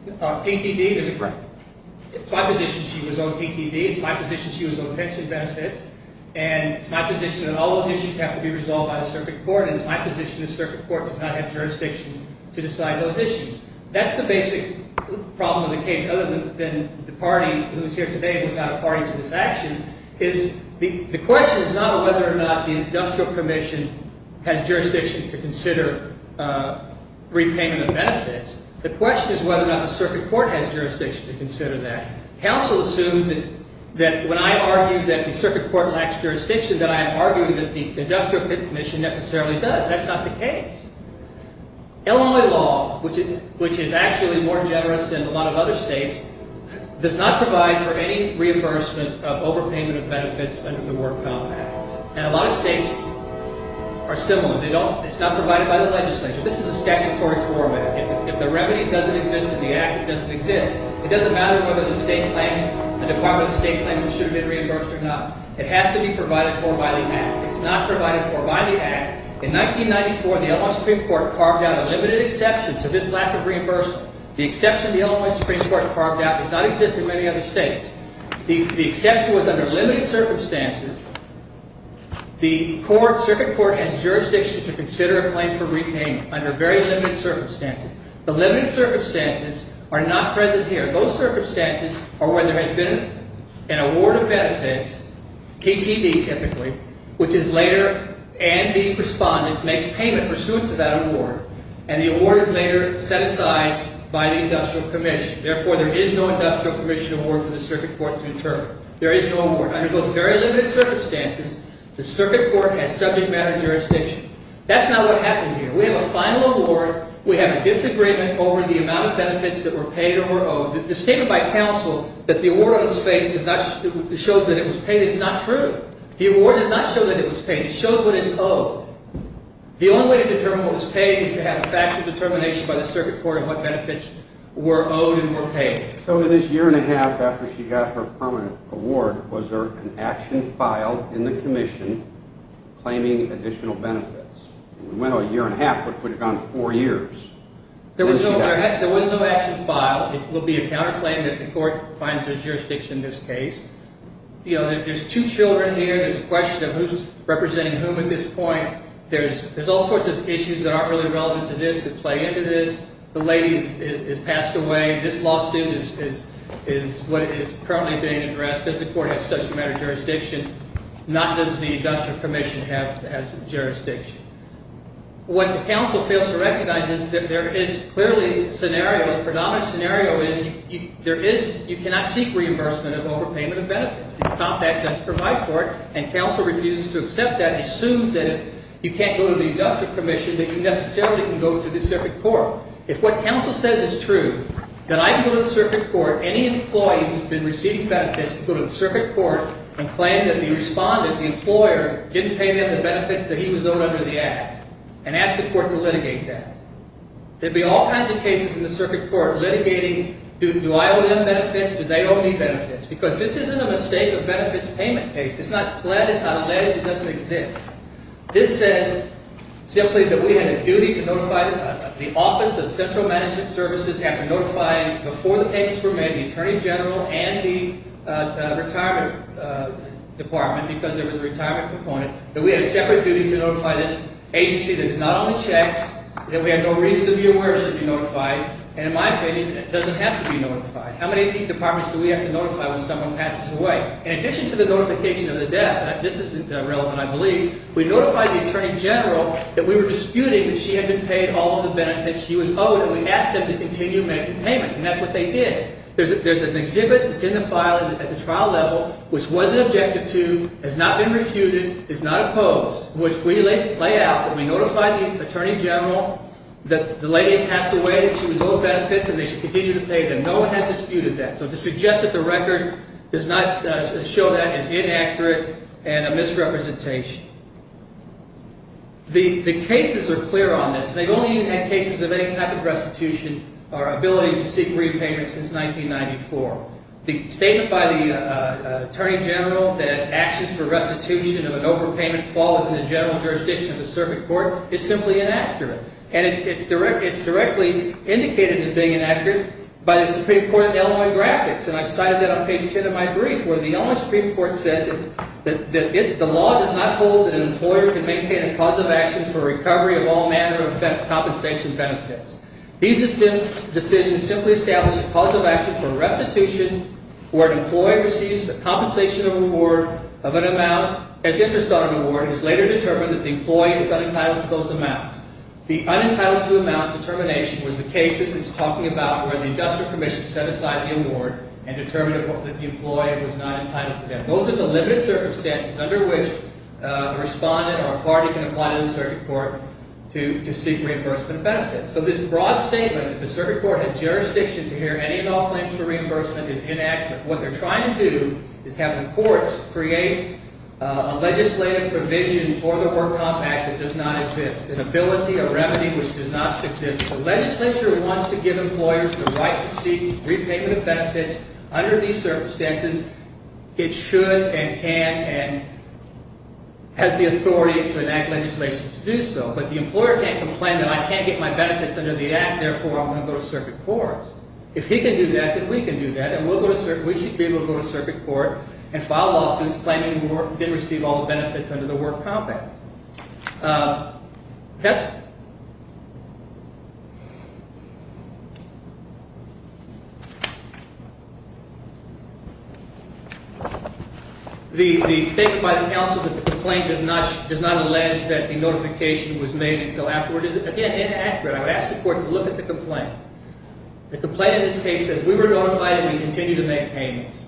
TTD is correct. It's my position she was owed TTD. It's my position she was owed pension benefits. And it's my position that all those issues have to be resolved by the circuit court. And it's my position the circuit court does not have jurisdiction to decide those issues. That's the basic problem of the case, other than the party who is here today was not a party to this action. The question is not whether or not the industrial commission has jurisdiction to consider repayment of benefits. The question is whether or not the circuit court has jurisdiction to consider that. Counsel assumes that when I argue that the circuit court lacks jurisdiction, that I am arguing that the industrial commission necessarily does. That's not the case. Illinois law, which is actually more generous than a lot of other states, does not provide for any reimbursement of overpayment of benefits under the work compact. And a lot of states are similar. It's not provided by the legislature. This is a statutory format. If the remedy doesn't exist in the act, it doesn't exist. It doesn't matter whether the state claims, the Department of State claims it should have been reimbursed or not. It has to be provided for by the act. It's not provided for by the act. In 1994, the Illinois Supreme Court carved out a limited exception to this lack of reimbursement. The exception the Illinois Supreme Court carved out does not exist in many other states. The exception was under limited circumstances. The circuit court has jurisdiction to consider a claim for repayment under very limited circumstances. The limited circumstances are not present here. Those circumstances are when there has been an award of benefits, TTV typically, which is later and the respondent makes payment pursuant to that award. And the award is later set aside by the industrial commission. Therefore, there is no industrial commission award for the circuit court to interpret. There is no award. Under those very limited circumstances, the circuit court has subject matter jurisdiction. That's not what happened here. We have a final award. We have a disagreement over the amount of benefits that were paid or were owed. The statement by counsel that the award on its face does not show that it was paid is not true. The award does not show that it was paid. It shows what is owed. The only way to determine what was paid is to have a factual determination by the circuit court of what benefits were owed and were paid. So in this year and a half after she got her permanent award, was there an action filed in the commission claiming additional benefits? We went a year and a half. What if we had gone four years? There was no action filed. It would be a counterclaim if the court finds there's jurisdiction in this case. You know, there's two children here. There's a question of who's representing whom at this point. There's all sorts of issues that aren't really relevant to this that play into this. The lady has passed away. This lawsuit is what is currently being addressed. Does the court have subject matter jurisdiction? Not does the industrial commission have jurisdiction. What the counsel fails to recognize is that there is clearly a scenario. The predominant scenario is you cannot seek reimbursement of overpayment of benefits. The compact does provide for it, and counsel refuses to accept that and assumes that if you can't go to the industrial commission, that you necessarily can go to the circuit court. If what counsel says is true, that I can go to the circuit court, any employee who's been receiving benefits can go to the circuit court and claim that the respondent, the employer, didn't pay them the benefits that he was owed under the act and ask the court to litigate that. There'd be all kinds of cases in the circuit court litigating, do I owe them benefits? Do they owe me benefits? Because this isn't a mistake of benefits payment case. It's not pledged. It's not alleged. It doesn't exist. This says simply that we had a duty to notify the office of central management services after notifying, before the payments were made, the attorney general and the retirement department, because there was a retirement component, that we had a separate duty to notify this agency that is not on the checks, that we had no reason to be aware it should be notified, and in my opinion, it doesn't have to be notified. How many departments do we have to notify when someone passes away? In addition to the notification of the death, and this is relevant, I believe, we notified the attorney general that we were disputing that she had been paid all of the benefits she was owed, and we asked them to continue making payments, and that's what they did. There's an exhibit that's in the file at the trial level which wasn't objected to, has not been refuted, is not opposed, which we lay out that we notified the attorney general that the lady had passed away, that she was owed benefits, and they should continue to pay them. No one had disputed that. So to suggest that the record does not show that is inaccurate and a misrepresentation. The cases are clear on this. They've only had cases of any type of restitution or ability to seek repayment since 1994. The statement by the attorney general that actions for restitution of an overpayment fall within the general jurisdiction of a circuit court is simply inaccurate, and it's directly indicated as being inaccurate by the Supreme Court's Illinois graphics, and I've cited that on page 10 of my brief where the Illinois Supreme Court says that the law does not hold that an employer can maintain a cause of action for recovery of all manner of compensation benefits. These decisions simply establish a cause of action for restitution where an employee receives a compensation of an amount as interest on an award and is later determined that the employee is unentitled to those amounts. The unentitled-to-amount determination was the cases it's talking about where the industrial commission set aside the award and determined that the employee was not entitled to that. Those are the limited circumstances under which a respondent or a party can apply to the circuit court to seek reimbursement benefits. So this broad statement that the circuit court had jurisdiction to hear any and all claims for reimbursement is inaccurate. What they're trying to do is have the courts create a legislative provision for the Work Compact that does not exist, an ability, a remedy, which does not exist. The legislature wants to give employers the right to seek repayment of benefits. Under these circumstances, it should and can and has the authority to enact legislation to do so. But the employer can't complain that I can't get my benefits under the Act, therefore I'm going to go to circuit court. If he can do that, then we can do that, and we should be able to go to circuit court and file lawsuits claiming we didn't receive all the benefits under the Work Compact. The statement by the counsel that the complaint does not allege that the notification was made until afterward is, again, inaccurate. I would ask the court to look at the complaint. The complaint in this case says we were notified and we continue to make payments.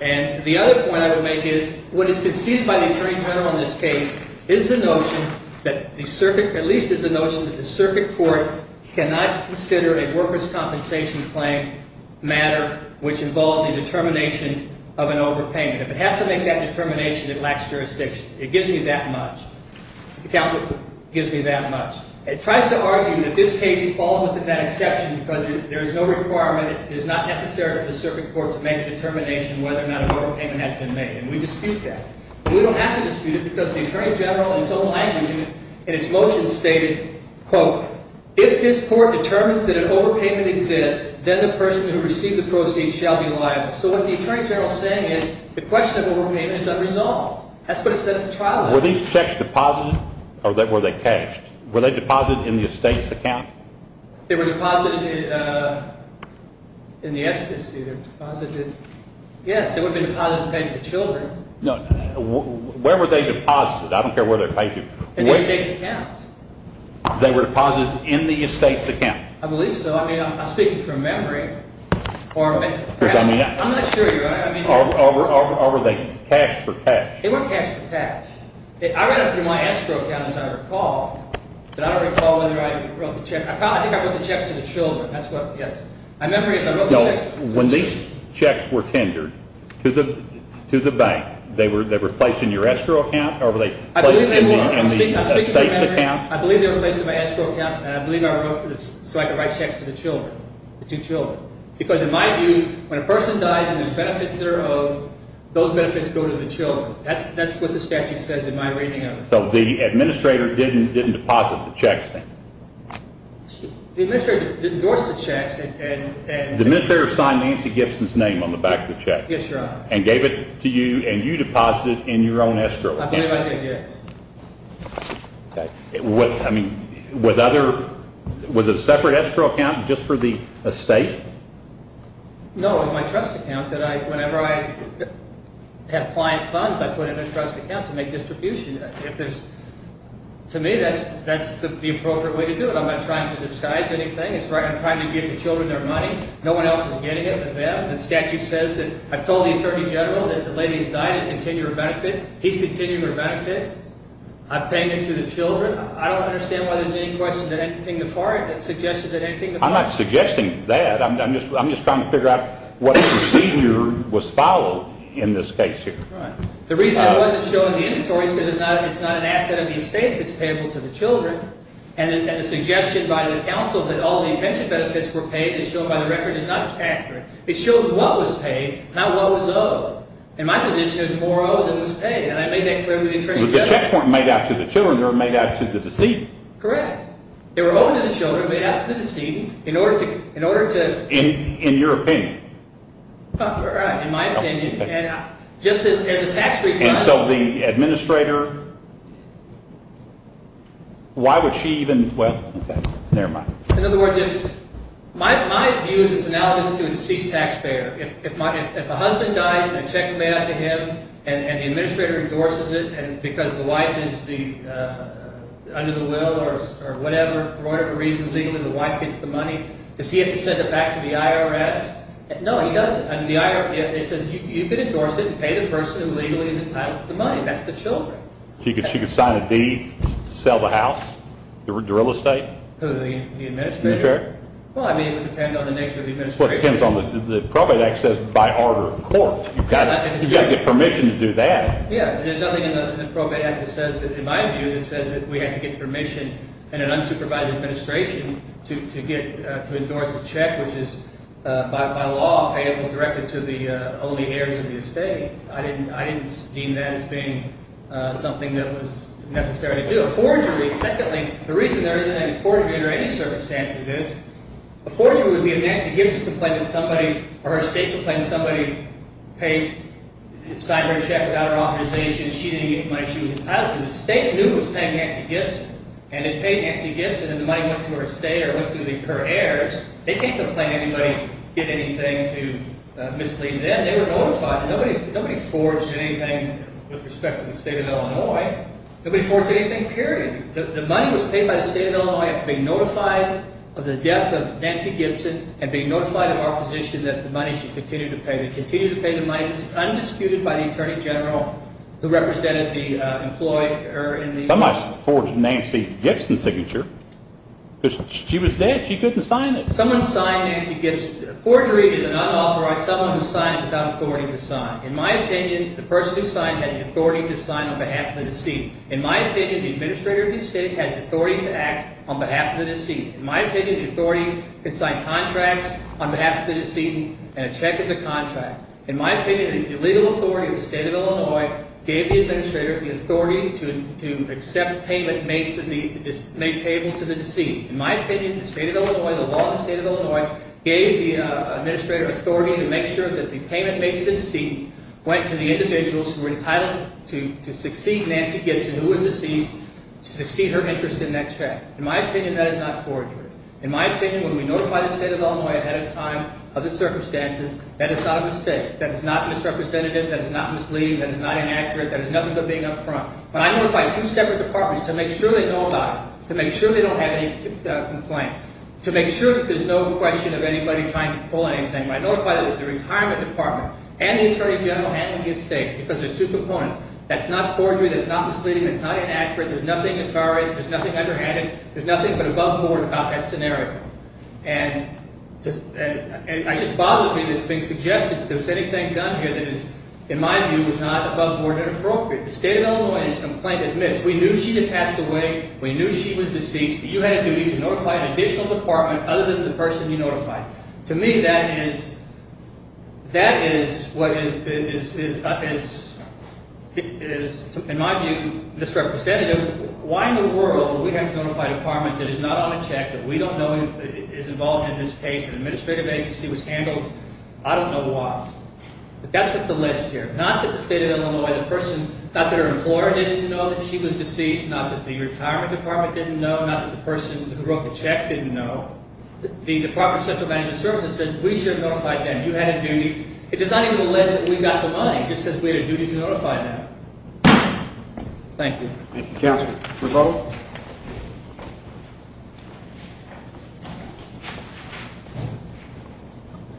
And the other point I would make is what is conceded by the Attorney General in this case is the notion that the circuit, at least is the notion that the circuit court cannot consider a workers' compensation claim matter, which involves a determination of an overpayment. If it has to make that determination, it lacks jurisdiction. It gives me that much. The counsel gives me that much. It tries to argue that this case falls within that exception because there is no requirement, it is not necessary for the circuit court to make a determination whether or not an overpayment has been made. And we dispute that. We don't have to dispute it because the Attorney General in his own language in his motion stated, quote, if this court determines that an overpayment exists, then the person who received the proceeds shall be liable. So what the Attorney General is saying is the question of overpayment is unresolved. That's what it said at the trial. Were these checks deposited or were they cashed? Were they deposited in the estate's account? They were deposited in the estate's account. Yes, they would have been deposited and paid to the children. Where were they deposited? I don't care where they were paid to. In the estate's account. They were deposited in the estate's account. I believe so. I'm speaking from memory. I'm not sure. Or were they cashed for cash? They were cashed for cash. I ran it through my escrow account, as I recall. But I don't recall whether I wrote the check. I think I wrote the checks to the children. That's what, yes. My memory is I wrote the checks. When these checks were tendered to the bank, they were placed in your escrow account? Or were they placed in the estate's account? I believe they were placed in my escrow account. And I believe I wrote it so I could write checks to the children, the two children. Because in my view, when a person dies and there's benefits that are owed, those benefits go to the children. That's what the statute says in my reading of it. So the administrator didn't deposit the checks then? The administrator endorsed the checks. The administrator signed Nancy Gibson's name on the back of the check? Yes, Your Honor. And gave it to you, and you deposited it in your own escrow account? I believe I did, yes. Okay. I mean, was it a separate escrow account just for the estate? No, it was my trust account that I, whenever I have client funds, I put it in a trust account to make distribution. If there's, to me, that's the appropriate way to do it. I'm not trying to disguise anything. I'm trying to give the children their money. No one else is getting it but them. The statute says that I've told the Attorney General that the lady has died and continue her benefits. He's continuing her benefits. I'm paying it to the children. I don't understand why there's any question that anything before it that suggested that anything before it. I'm not suggesting that. I'm just trying to figure out what procedure was followed in this case here. Right. The reason it wasn't shown in the inventories is because it's not an asset of the estate if it's payable to the children. And the suggestion by the counsel that all the pension benefits were paid is shown by the record. It's not just after it. It shows what was paid, not what was owed. In my position, it was more owed than was paid. And I made that clear with the Attorney General. The checks weren't made out to the children. They were made out to the deceased. Correct. They were owed to the children, made out to the deceased in order to – In your opinion. Right, in my opinion. And just as a tax refund – And so the administrator – why would she even – well, never mind. In other words, if – my view is analogous to a deceased taxpayer. If a husband dies and a check is made out to him and the administrator endorses it because the wife is under the will or whatever, for whatever reason, legally the wife gets the money, does he have to send it back to the IRS? No, he doesn't. It says you can endorse it and pay the person who legally is entitled to the money. That's the children. She could sign a deed to sell the house, the real estate? The administrator? Okay. Well, I mean, it would depend on the nature of the administration. The Probate Act says by order of court. You've got to get permission to do that. Yeah, there's nothing in the Probate Act that says – in my view – that says that we have to get permission in an unsupervised administration to endorse a check, which is by law payable directly to the only heirs of the estate. I didn't deem that as being something that was necessary to do. The reason there isn't any forgery under any circumstances is a forgery would be if Nancy Gibson complained to somebody or her estate complained to somebody, paid, signed her check without her authorization, she didn't get the money, she was entitled to it. The estate knew it was paying Nancy Gibson, and it paid Nancy Gibson, and the money went to her estate or went to her heirs. They can't complain to anybody, get anything to mislead them. They were notified. Nobody forged anything with respect to the state of Illinois. Nobody forged anything, period. The money was paid by the state of Illinois after being notified of the death of Nancy Gibson and being notified of our position that the money should continue to pay. They continue to pay the money. It's undisputed by the Attorney General who represented the employee. Somebody forged a Nancy Gibson signature. She was dead. She couldn't sign it. Someone signed Nancy Gibson. Forgery is an unauthorized – someone who signs without authority to sign. In my opinion, the person who signed had the authority to sign on behalf of the deceived. In my opinion, the administrator of the estate has the authority to act on behalf of the deceived. In my opinion, the authority can sign contracts on behalf of the deceived, and a check is a contract. In my opinion, the legal authority of the state of Illinois gave the administrator the authority to accept payment made payable to the deceived. In my opinion, the state of Illinois, the law of the state of Illinois gave the administrator authority to make sure that the payment made to the deceived went to the individuals who were entitled to succeed Nancy Gibson, who was deceased, to succeed her interest in that check. In my opinion, that is not forgery. In my opinion, when we notify the state of Illinois ahead of time of the circumstances, that is not a mistake. That is not misrepresentative, that is not misleading, that is not inaccurate, that is nothing but being up front. But I notify two separate departments to make sure they know about it, to make sure they don't have any complaint, to make sure that there's no question of anybody trying to pull anything. I notify the retirement department and the attorney general handling the estate because there's two components. That's not forgery, that's not misleading, that's not inaccurate, there's nothing as far as, there's nothing underhanded, there's nothing but above board about that scenario. And it just bothers me that it's being suggested that if there's anything done here that is, in my view, is not above board and appropriate. If the state of Illinois has complained, admits, we knew she had passed away, we knew she was deceased, but you had a duty to notify an additional department other than the person you notified. To me, that is, that is what is, in my view, misrepresentative. Why in the world would we have to notify a department that is not on a check, that we don't know is involved in this case, an administrative agency which handles, I don't know why. But that's what's alleged here. Not that the state of Illinois, the person, not that her employer didn't know that she was deceased, not that the retirement department didn't know, not that the person who wrote the check didn't know. The Department of Central Management Services said we should have notified them. You had a duty. It does not even list that we got the money. It just says we had a duty to notify them. Thank you. Thank you, counsel. A motion to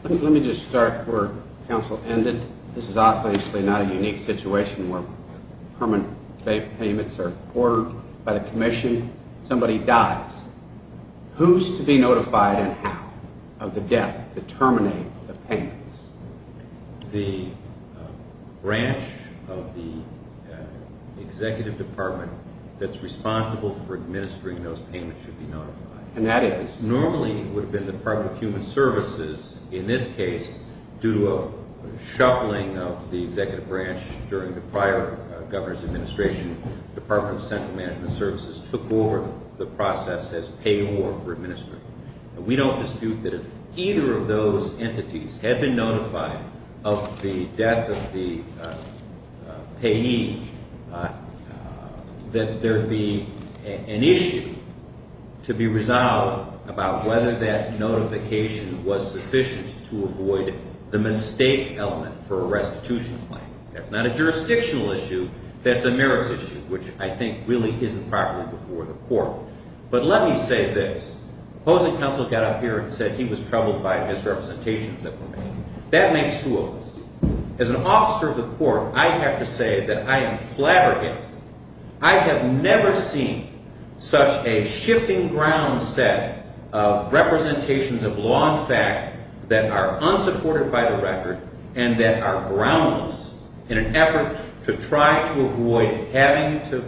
vote? Let me just start where counsel ended. This is obviously not a unique situation where permanent payments are ordered by the commission. Somebody dies. Who's to be notified and how of the death to terminate the payments? The branch of the executive department that's responsible for administering those payments should be notified. And that is? Normally it would have been the Department of Human Services. In this case, due to a shuffling of the executive branch during the prior governor's administration, Department of Central Management Services took over the process as payor for administering. We don't dispute that if either of those entities had been notified of the death of the payee, that there would be an issue to be resolved about whether that notification was sufficient to avoid the mistake element for a restitution claim. That's not a jurisdictional issue. That's a merits issue, which I think really isn't properly before the court. But let me say this. Opposing counsel got up here and said he was troubled by misrepresentations that were made. That makes two of us. As an officer of the court, I have to say that I am flabbergasted. I have never seen such a shifting ground set of representations of law and fact that are unsupported by the record and that are groundless in an effort to try to avoid having to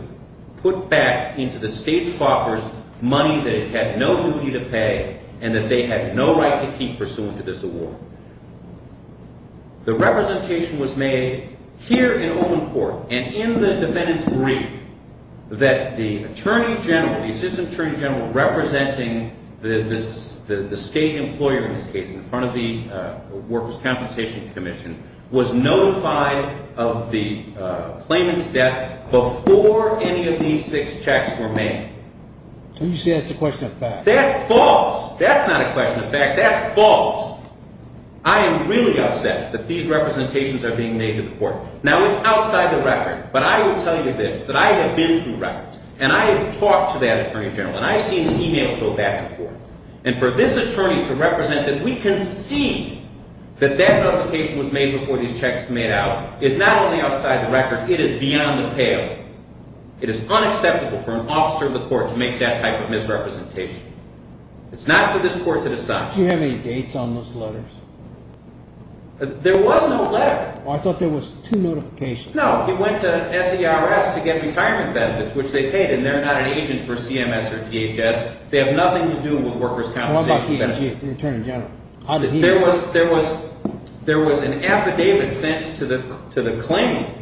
put back into the state's coffers money that it had no duty to pay and that they had no right to keep pursuant to this award. The representation was made here in Olin Court and in the defendant's brief that the Attorney General, the Assistant Attorney General representing the state employer in this case in front of the Workers' Compensation Commission, was notified of the claimant's death before any of these six checks were made. So you say that's a question of fact. That's false. That's not a question of fact. That's false. I am really upset that these representations are being made to the court. Now, it's outside the record. But I will tell you this, that I have been through records. And I have talked to that Attorney General. And I've seen the emails go back and forth. And for this attorney to represent that we can see that that notification was made before these checks were made out is not only outside the record. It is beyond the pale. It is unacceptable for an officer of the court to make that type of misrepresentation. It's not for this court to decide. Do you have any dates on those letters? There was no letter. I thought there was two notifications. No, he went to SERS to get retirement benefits, which they paid. And they're not an agent for CMS or DHS. They have nothing to do with workers' compensation benefits. What about P&G, the attorney general? There was an affidavit sent to the claimant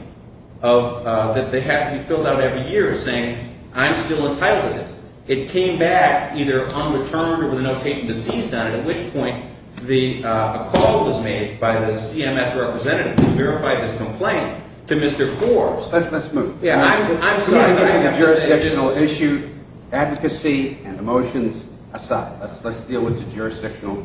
that has to be filled out every year saying, I'm still entitled to this. It came back either unreturned or with a notation deceased on it, at which point a call was made by the CMS representative to verify this complaint. To Mr. Forbes. Let's move. I'm sorry. It's a jurisdictional issue. Advocacy and emotions aside, let's deal with the jurisdictional.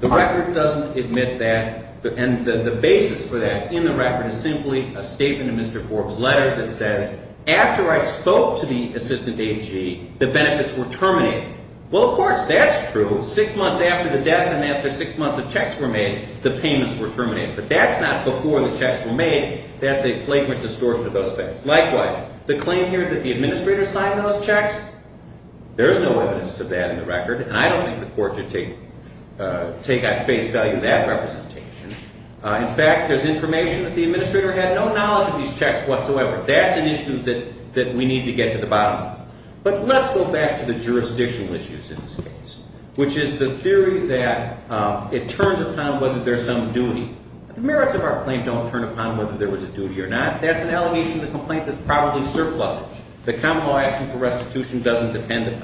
The record doesn't admit that. And the basis for that in the record is simply a statement in Mr. Forbes' letter that says, after I spoke to the assistant AG, the benefits were terminated. Well, of course, that's true. Six months after the death and after six months of checks were made, the payments were terminated. But that's not before the checks were made. That's a flagrant distortion of those facts. Likewise, the claim here that the administrator signed those checks, there's no evidence of that in the record. And I don't think the court should take at face value that representation. In fact, there's information that the administrator had no knowledge of these checks whatsoever. That's an issue that we need to get to the bottom of. But let's go back to the jurisdictional issues in this case, which is the theory that it turns upon whether there's some duty. The merits of our claim don't turn upon whether there was a duty or not. That's an allegation of the complaint that's probably surplusage. The common law action for restitution doesn't depend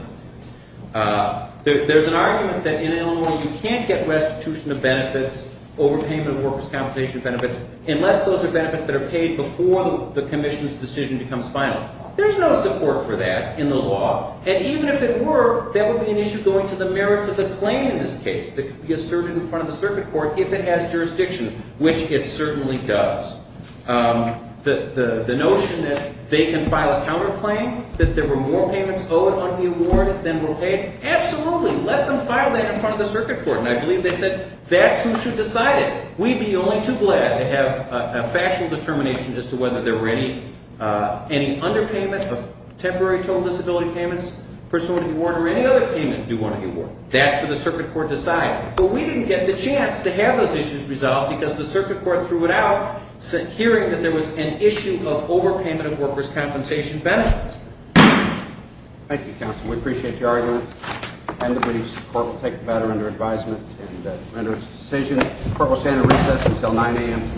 upon it. There's an argument that in Illinois you can't get restitution of benefits, overpayment of workers' compensation benefits, unless those are benefits that are paid before the commission's decision becomes final. There's no support for that in the law. And even if it were, that would be an issue going to the merits of the claim in this case that could be asserted in front of the circuit court if it has jurisdiction, which it certainly does. The notion that they can file a counterclaim, that there were more payments owed on the award than were paid, absolutely. Let them file that in front of the circuit court. And I believe they said that's who should decide it. We'd be only too glad to have a factual determination as to whether there were any underpayment of temporary total disability payments pursuant to the award or any other payment due on the award. That's what the circuit court decided. But we didn't get the chance to have those issues resolved because the circuit court threw it out hearing that there was an issue of overpayment of workers' compensation benefits. Thank you, counsel. We appreciate your argument. I believe the court will take the matter under advisement and render its decision. The court will stand at recess until 9 a.m. tomorrow morning. Thank you. All rise.